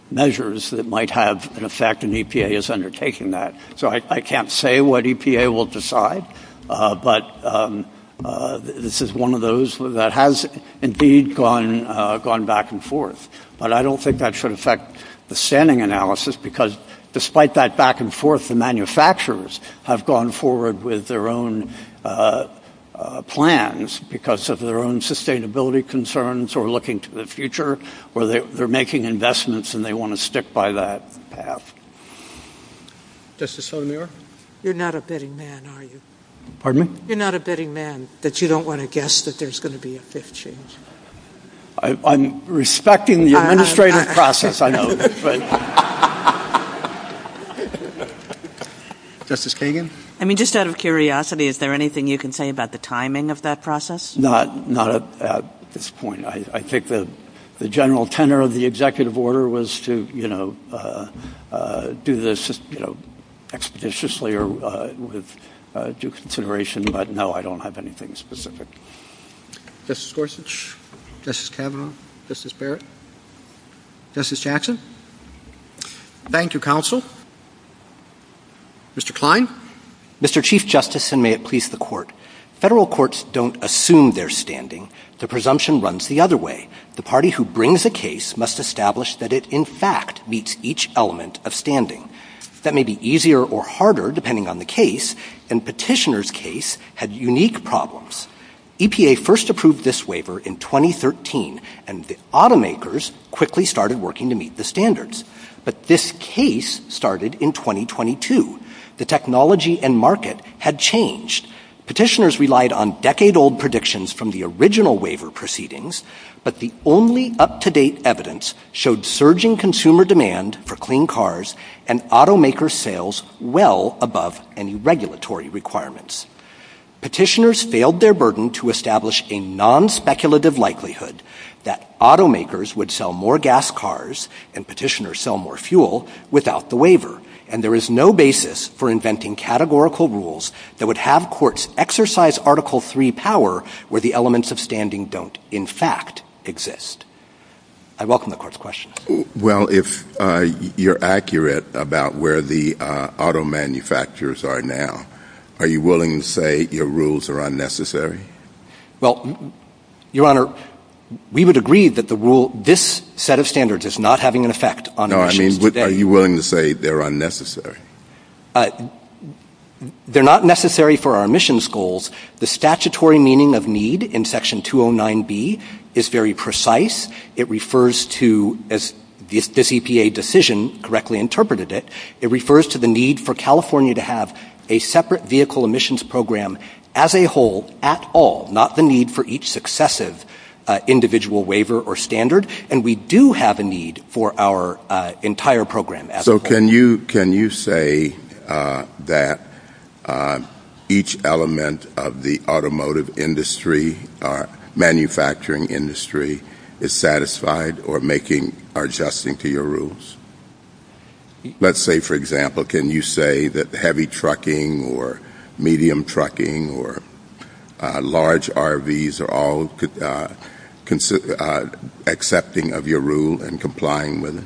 measures that might have an effect, and EPA is undertaking that. So I can't say what EPA will decide, but this is one of those that has indeed gone back and forth. But I don't think that should affect the standing analysis, because despite that back and forth, the manufacturers have gone forward with their own plans because of their own sustainability concerns or looking to the future, or they're making investments and they want to stick by that path. Justice Sotomayor? You're not a bidding man, are you? Pardon me? You're not a bidding man that you don't want to guess that there's going to be a fifth change? I'm respecting the administrative process, I know. Justice Kagan? I mean, just out of curiosity, is there anything you can say about the timing of that process? Not at this point. I think the general tenor of the executive order was to do this expeditiously or with due consideration, but no, I don't have anything specific. Justice Gorsuch? Justice Kavanaugh? Justice Barrett? Justice Jackson? Thank you, counsel. Mr. Klein? Mr. Chief Justice, and may it please the Court. Federal courts don't assume their standing. The presumption runs the other way. The party who brings a case must establish that it, in fact, meets each element of standing. That may be easier or harder, depending on the case, and Petitioner's case had unique problems. EPA first approved this waiver in 2013, and the automakers quickly started working to meet the But this case started in 2022. The technology and market had changed. Petitioners relied on decade-old predictions from the original waiver proceedings, but the only up-to-date evidence showed surging consumer demand for clean cars and automaker sales well above any regulatory requirements. Petitioners failed their burden to establish a non-speculative likelihood that automakers would sell more gas cars and petitioners sell more fuel without the waiver, and there is no basis for inventing categorical rules that would have courts exercise Article III power where the elements of standing don't, in fact, exist. I welcome the Court's questions. Well, if you're accurate about where the auto manufacturers are now, are you willing to say your rules are unnecessary? Well, Your Honor, we would agree that this set of standards is not having an effect. Are you willing to say they're unnecessary? They're not necessary for our emissions goals. The statutory meaning of need in Section 209B is very precise. It refers to, as this EPA decision correctly interpreted it, it refers to the need for California to have a separate vehicle emissions program as a whole at all, not the need for each successive individual waiver or standard, and we do have a need for our entire program as a whole. So can you say that each element of the automotive industry, manufacturing industry, is satisfied or making or adjusting to your rules? Let's say, for example, can you say that heavy trucking or medium trucking or large RVs are all accepting of your rule and complying with it?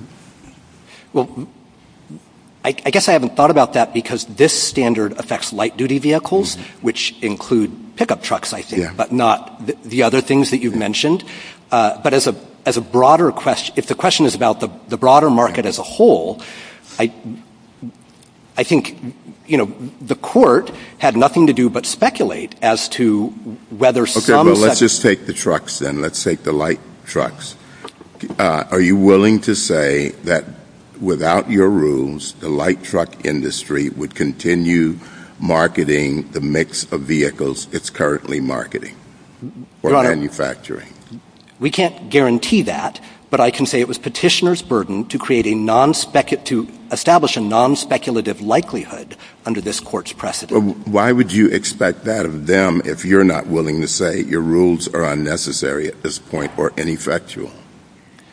Well, I guess I haven't thought about that because this standard affects light-duty vehicles, which include pickup trucks, I think, but not the other things that you've mentioned. But as a broader question, if the question is about the broader market of vehicles, as a whole, I think, you know, the court had nothing to do but speculate as to whether some Okay, well, let's just take the trucks then. Let's take the light trucks. Are you willing to say that without your rules, the light truck industry would continue marketing the mix of vehicles it's currently marketing or manufacturing? We can't guarantee that, but I can say it was petitioner's burden to create a non-speculative to establish a non-speculative likelihood under this court's precedent. Why would you expect that of them if you're not willing to say your rules are unnecessary at this point or ineffectual?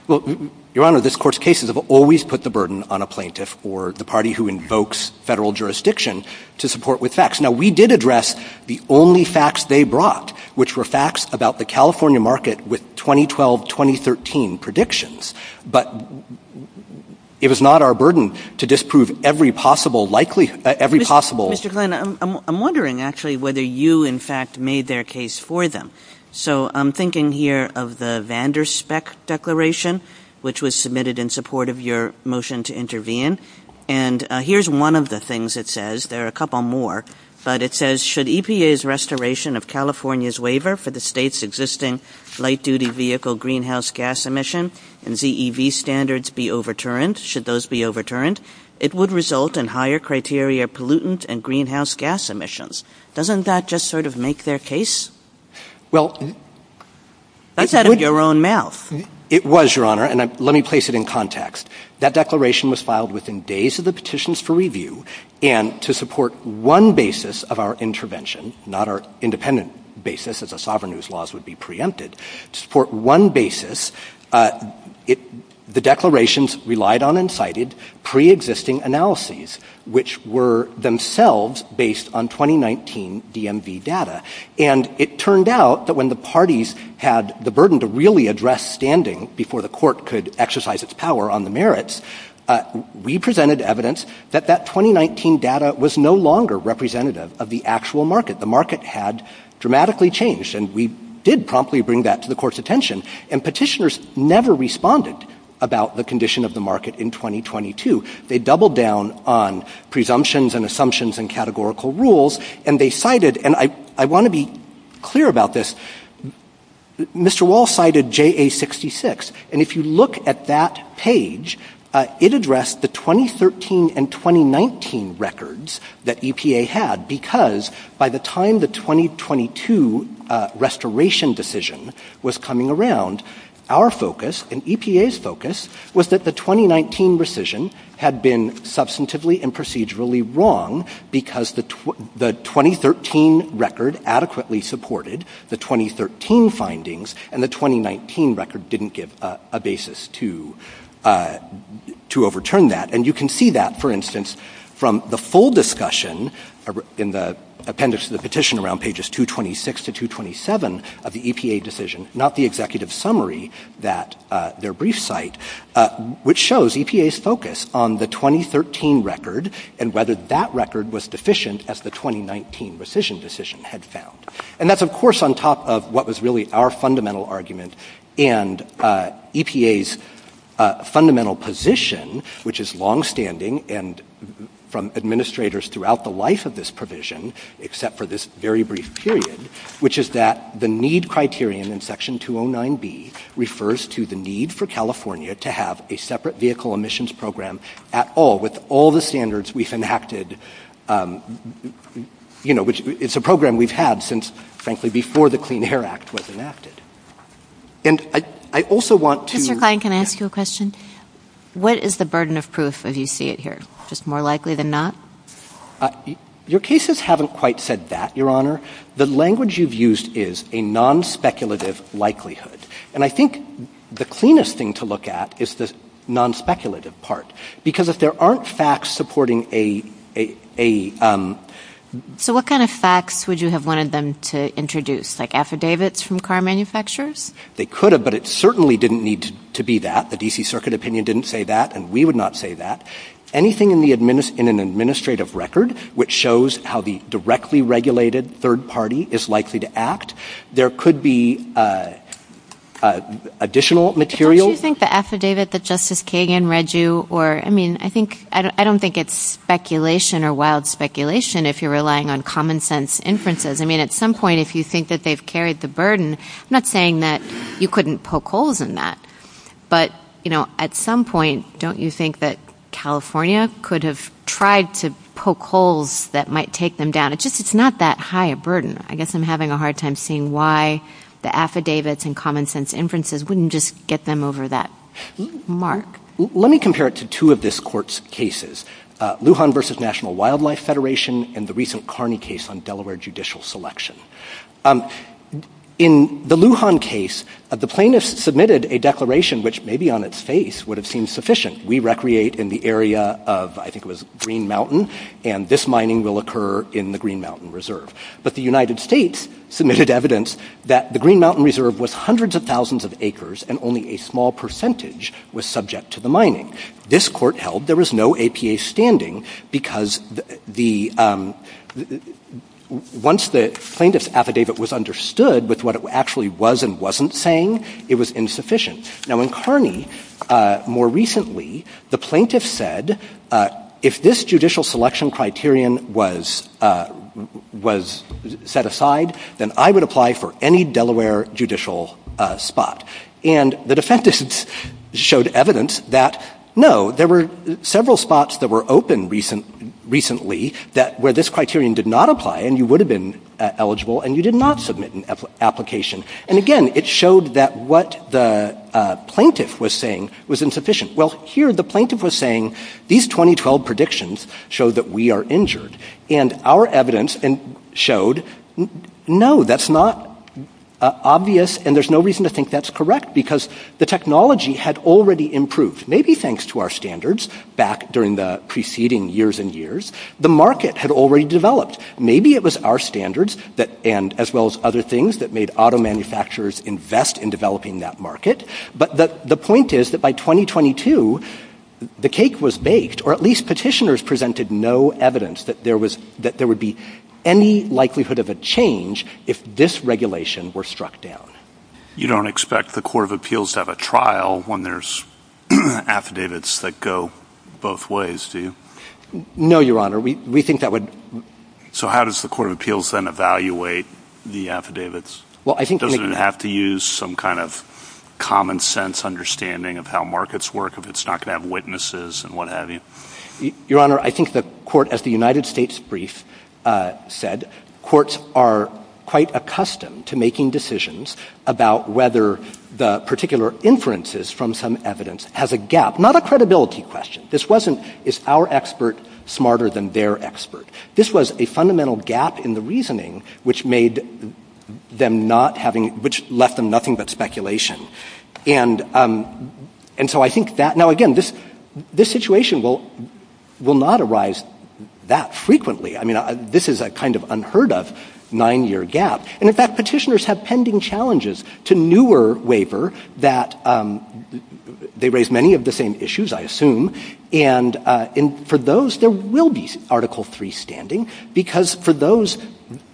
Well, Your Honor, this court's cases have always put the burden on a plaintiff or the party who invokes federal jurisdiction to support with facts. Now, we did address the only facts they brought, which were facts about the California market with 2012-2013 predictions. But it was not our burden to disprove every possible likelihood, every possible Mr. Klein, I'm wondering, actually, whether you, in fact, made their case for them. So I'm thinking here of the Vanderspeck Declaration, which was submitted in support of your motion to intervene. And here's one of the things it says. There are a couple more, but it says, should EPA's restoration of California's waiver for the State's existing light-duty vehicle greenhouse gas emission and ZEV standards be overturned, should those be overturned, it would result in higher criteria pollutant and greenhouse gas emissions. Doesn't that just sort of make their case? Well, it would — That's out of your own mouth. It was, Your Honor, and let me place it in context. That declaration was filed within days of the petitions for review. And to support one basis of our intervention, not our independent basis, as a sovereign whose laws would be preempted, to support one basis, the declarations relied on and cited preexisting analyses, which were themselves based on 2019 DMV data. And it turned out that when the parties had the burden to really address standing before the Court could exercise its power on the merits, we presented evidence that that 2019 data was no longer representative of the actual market. The market had dramatically changed, and we did promptly bring that to the Court's attention. And petitioners never responded about the condition of the market in 2022. They doubled down on presumptions and assumptions and categorical rules, and they cited — and I want to be clear about this — Mr. Wall cited JA-66. And if you look at that page, it addressed the 2013 and 2019 records that EPA had, because by the time the 2022 restoration decision was coming around, our focus and EPA's focus was that the 2019 rescission had been substantively and procedurally wrong because the 2013 record adequately supported the 2013 findings, and the 2019 record didn't give a basis to overturn that. And you can see that, for instance, from the full discussion in the appendix to the petition around pages 226 to 227 of the brief site, which shows EPA's focus on the 2013 record and whether that record was deficient as the 2019 rescission decision had found. And that's, of course, on top of what was really our fundamental argument and EPA's fundamental position, which is longstanding and from administrators throughout the life of this provision, except for this very brief period, which is that the need criterion in Section 209B refers to the need for California to have a separate vehicle emissions program at all, with all the standards we've enacted — you know, which — it's a program we've had since, frankly, before the Clean Air Act was enacted. And I also want to — MS. MILLER. Mr. Klein, can I ask you a question? What is the burden of proof if you see it here? Just more likely than not? MR. KLEIN, JR. Your cases haven't quite said that, Your Honor. The language you've used is a non-speculative likelihood. And I think the cleanest thing to look at is the non-speculative part, because if there aren't facts supporting a — a — a — MS. MILLER. So what kind of facts would you have wanted them to introduce, like affidavits from car manufacturers? MR. KLEIN, JR. They could have, but it certainly didn't need to be that. The D.C. Circuit Opinion didn't say that, and we would not say that. Anything in the — in an administrative record which shows how the directly regulated third party is likely to act, there could be additional material — MS. MILLER. But don't you think the affidavit that Justice Kagan read you, or — I mean, I think — I don't think it's speculation or wild speculation if you're relying on common-sense inferences. I mean, at some point, if you think that they've carried the burden — I'm saying that you couldn't poke holes in that. But, you know, at some point, don't you think that California could have tried to poke holes that might take them down? It just — it's not that high a burden. I guess I'm having a hard time seeing why the affidavits and common-sense inferences wouldn't just get them over that mark. MR. KLEIN, JR. Let me compare it to two of this Court's cases, Lujan v. National Wildlife Federation and the recent Carney case on Delaware judicial selection. In the Lujan case, the plaintiff submitted a declaration which, maybe on its face, would have seemed sufficient. We recreate in the area of — I think it was Green Mountain, and this mining will occur in the Green Mountain Reserve. But the United States submitted evidence that the Green Mountain Reserve was hundreds of thousands of acres, and only a small percentage was subject to the mining. This Court held there was no APA standing because the — once the plaintiff's affidavit was understood with what it actually was and wasn't saying, it was insufficient. Now, in Carney, more recently, the plaintiff said, if this judicial selection criterion was set aside, then I would apply for any Delaware judicial spot. And the defendants showed evidence that, no, there were several spots that were open recently that — where this criterion did not apply, and you would have been eligible, and you did not submit an application. And, again, it showed that what the plaintiff was saying was insufficient. Well, here, the plaintiff was saying, these 2012 predictions show that we are injured. And our evidence showed, no, that's not obvious, and there's no reason to think that's correct, because the technology had already improved, maybe thanks to our standards back during the preceding years and years. The market had already developed. Maybe it was our standards that — and — as well as other things that made auto manufacturers invest in developing that market. But the point is that by 2022, the cake was baked, or at least petitioners presented no evidence that there was — that there would be any likelihood of a change if this regulation were struck down. You don't expect the Court of Appeals to have a trial when there's affidavits that go both ways, do you? No, Your Honor. We think that would — So how does the Court of Appeals then evaluate the affidavits? Well, I think — Doesn't it have to use some kind of common-sense understanding of how markets work, if it's not going to have witnesses and what have you? Your Honor, I think the Court, as the United States brief said, courts are quite accustomed to making decisions about whether the particular inferences from some evidence has a gap — not a credibility question. This wasn't, is our expert smarter than their expert? This was a fundamental gap in the reasoning, which made them not having — which left them nothing but speculation. And so I think that — now, again, this situation will not arise that frequently. I mean, this is a kind of unheard-of nine-year gap. And in fact, petitioners have pending I assume. And for those, there will be Article III standing, because for those,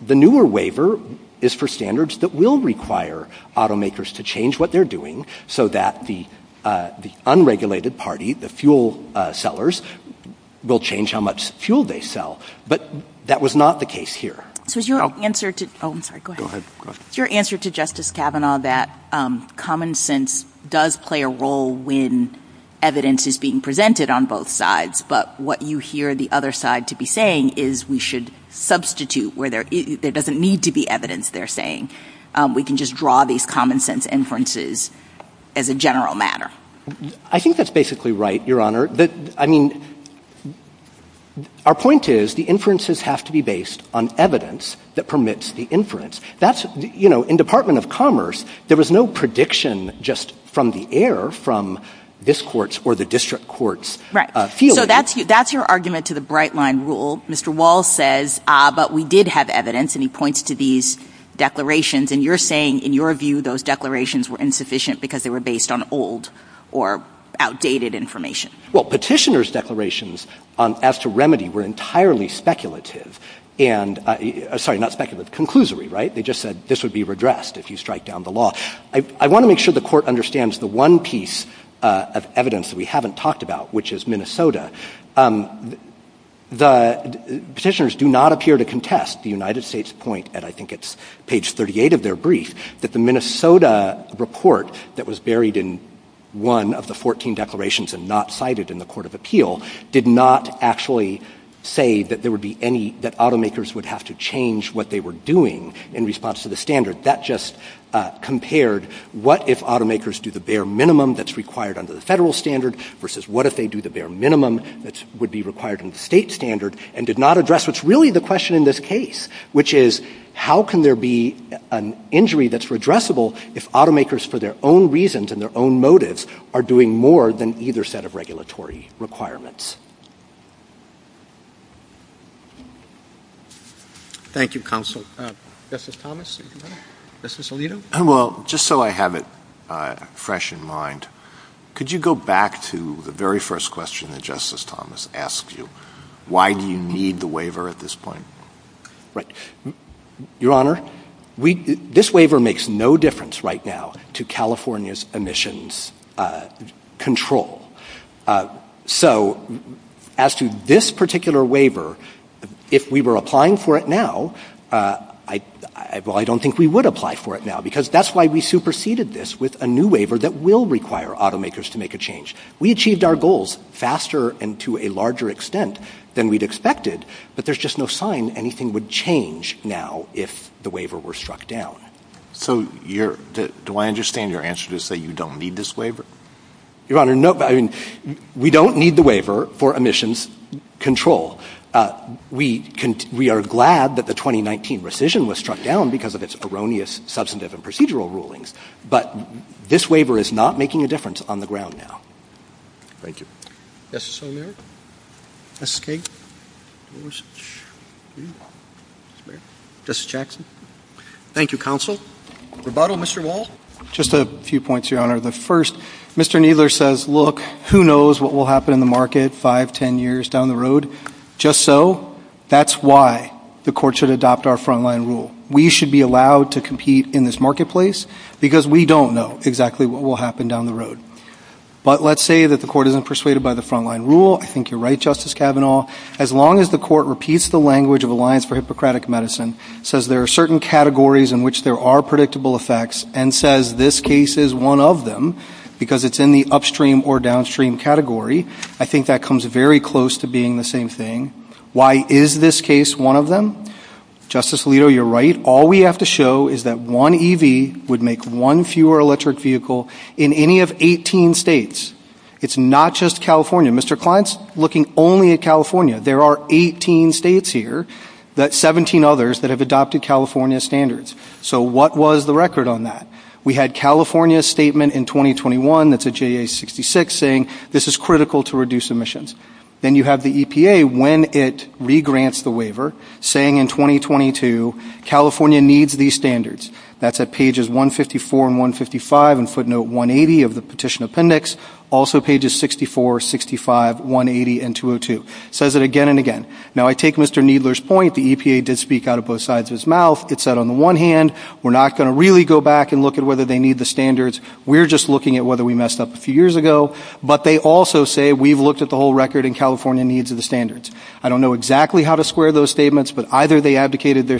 the newer waiver is for standards that will require automakers to change what they're doing so that the unregulated party, the fuel sellers, will change how much fuel they sell. But that was not the case here. So is your answer to — Oh, I'm sorry. Go ahead. Go ahead. Is your answer to Justice Kavanaugh that common sense does play a role when evidence is being presented on both sides, but what you hear the other side to be saying is we should substitute where there — there doesn't need to be evidence they're saying? We can just draw these common sense inferences as a general matter? I think that's basically right, Your Honor. I mean, our point is the inferences have to be based on evidence that permits the inference. That's — you know, in Department of Commerce, there was no prediction just from the air from this Court's or the district court's field. Right. So that's your argument to the Bright Line rule. Mr. Wall says, but we did have evidence, and he points to these declarations. And you're saying, in your view, those declarations were insufficient because they were based on old or outdated information. Well, petitioners' declarations as to remedy were entirely speculative and — sorry, not speculative, conclusory, right? They just said this would be redressed if you I want to make sure the Court understands the one piece of evidence that we haven't talked about, which is Minnesota. The petitioners do not appear to contest the United States' point, and I think it's page 38 of their brief, that the Minnesota report that was buried in one of the 14 declarations and not cited in the Court of Appeal did not actually say that there would be any — that automakers would have to change what they were doing in response to the That just compared what if automakers do the bare minimum that's required under the Federal standard versus what if they do the bare minimum that would be required in the State standard and did not address what's really the question in this case, which is how can there be an injury that's redressable if automakers, for their own reasons and their own motives, are doing more than either set of regulatory requirements? Thank you, Counsel. Justice Thomas, anything else? Justice Alito? Well, just so I have it fresh in mind, could you go back to the very first question that Justice Thomas asked you? Why do you need the waiver at this point? Right. Your Honor, we — this waiver makes no difference right now to California's emissions control. So as to this particular waiver, if we were applying for it now — well, I don't think we would apply for it now, because that's why we superseded this with a new waiver that will require automakers to make a change. We achieved our goals faster and to a larger extent than we'd expected, but there's just no sign anything would change now if the waiver were struck down. So you're — do I understand your answer to say you don't need this waiver? Your Honor, no — I mean, we don't need the waiver for emissions control. We are glad that the 2019 rescission was struck down because of its erroneous substantive and procedural rulings, but this waiver is not making a difference on the ground now. Thank you. Justice O'Mara? Justice Kagan? Justice — Justice Jackson? Thank you, counsel. Rebuttal, Mr. Wall? Just a few points, Your Honor. The first, Mr. Kneedler says, look, who knows what will happen in the market five, ten years down the road. Just so, that's why the court should adopt our front-line rule. We should be allowed to compete in this marketplace because we don't know exactly what will happen down the road. But let's say that the court isn't persuaded by the front-line rule. I think you're right, Justice Kavanaugh. As long as the court repeats the language of Alliance for Hippocratic Medicine, says there are certain categories in which there are predictable effects, and says this case is one of them because it's in the upstream or downstream category, I think that comes very close to being the same thing. Why is this case one of them? Justice Alito, you're right. All we have to show is that one EV would make one fewer electric vehicle in any of 18 states. It's not just California. Mr. Klein's looking only at California. There are 18 states here, 17 others that have adopted California standards. So what was the record on that? We had California's statement in 2021 that's a JA66 saying this is critical to reduce emissions. Then you have the EPA, when it regrants the waiver, saying in 2022, California needs these standards. That's at pages 154 and 155 and footnote 180 of the petition appendix. Also pages 64, 65, 180 and 202. Says it again and again. Now I take Mr. Needler's point, the EPA did speak out of both sides of his mouth. It said on the one hand, we're not going to really go back and look at whether they need the standards. We're just looking at whether we messed up a few years ago. But they also say we've looked at the whole record and California needs the standards. I don't know exactly how to square those statements, but either they abdicated their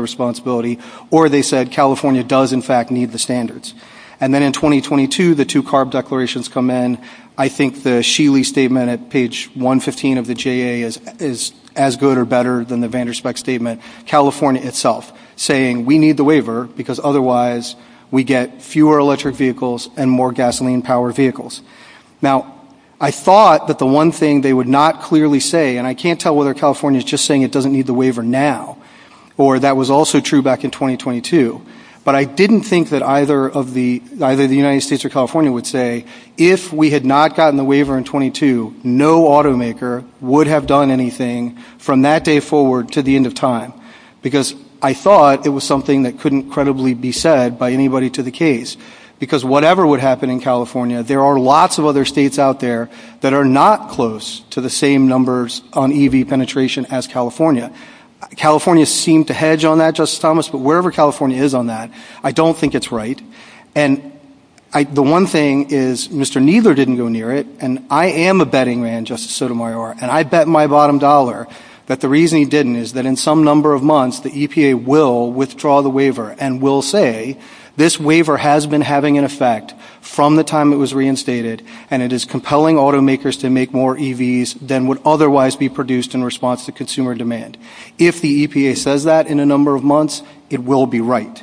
responsibility or they said California does in fact need the standards. And then in 2022, the two CARB declarations come in. I think the Sheely statement at page 115 of the JA is as good or better than the Vanderspeck statement. California itself saying we need the waiver because otherwise we get fewer electric vehicles and more gasoline powered vehicles. Now, I thought that the one thing they would not clearly say, and I can't tell whether California is just saying it doesn't need the waiver now or that was also true back in 2022. But I didn't think that either of the United States or California would say if we had not gotten the waiver in 22, no automaker would have done anything from that day forward to the end of time. Because I thought it was something that couldn't credibly be said by anybody to the case. Because whatever would happen in California, there are lots of other states out there that are not close to the same numbers on EV penetration as California. California seemed to hedge on that, Justice Thomas, but wherever California is on that, I don't think it's right. And the one thing is Mr. Kneedler didn't go near it, and I am a betting man, Justice Sotomayor, and I bet my bottom dollar that the reason he didn't is that in some number of months, the EPA will withdraw the waiver and will say this waiver has been having an effect from the time it was reinstated and it is compelling automakers to make more EVs than would otherwise be produced in response to consumer demand. If the EPA says that in a number of months, it will be right.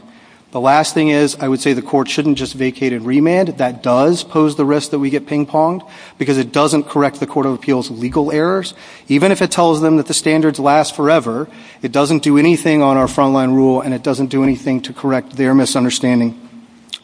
The last thing is I would say the court shouldn't just vacate and remand. That does pose the risk that we get ping-ponged because it doesn't correct the Court of Appeals legal errors. Even if it tells them that the standards last forever, it doesn't do anything on our front-line rule and it doesn't do anything to correct their misunderstanding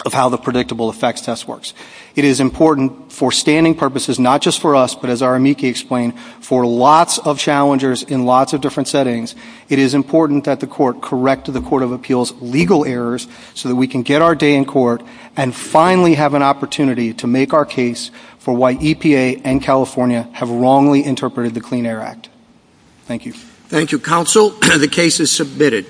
of how the predictable effects test works. It is important for standing purposes, not just for us, but as our amici explain, for lots of challengers in lots of different settings, it is important that the court correct the Court of Appeals legal errors so that we can get our day in court and finally have an opportunity to make our case for why EPA and California have wrongly interpreted the Clean Air Act. Thank you. Thank you, counsel. The case is submitted.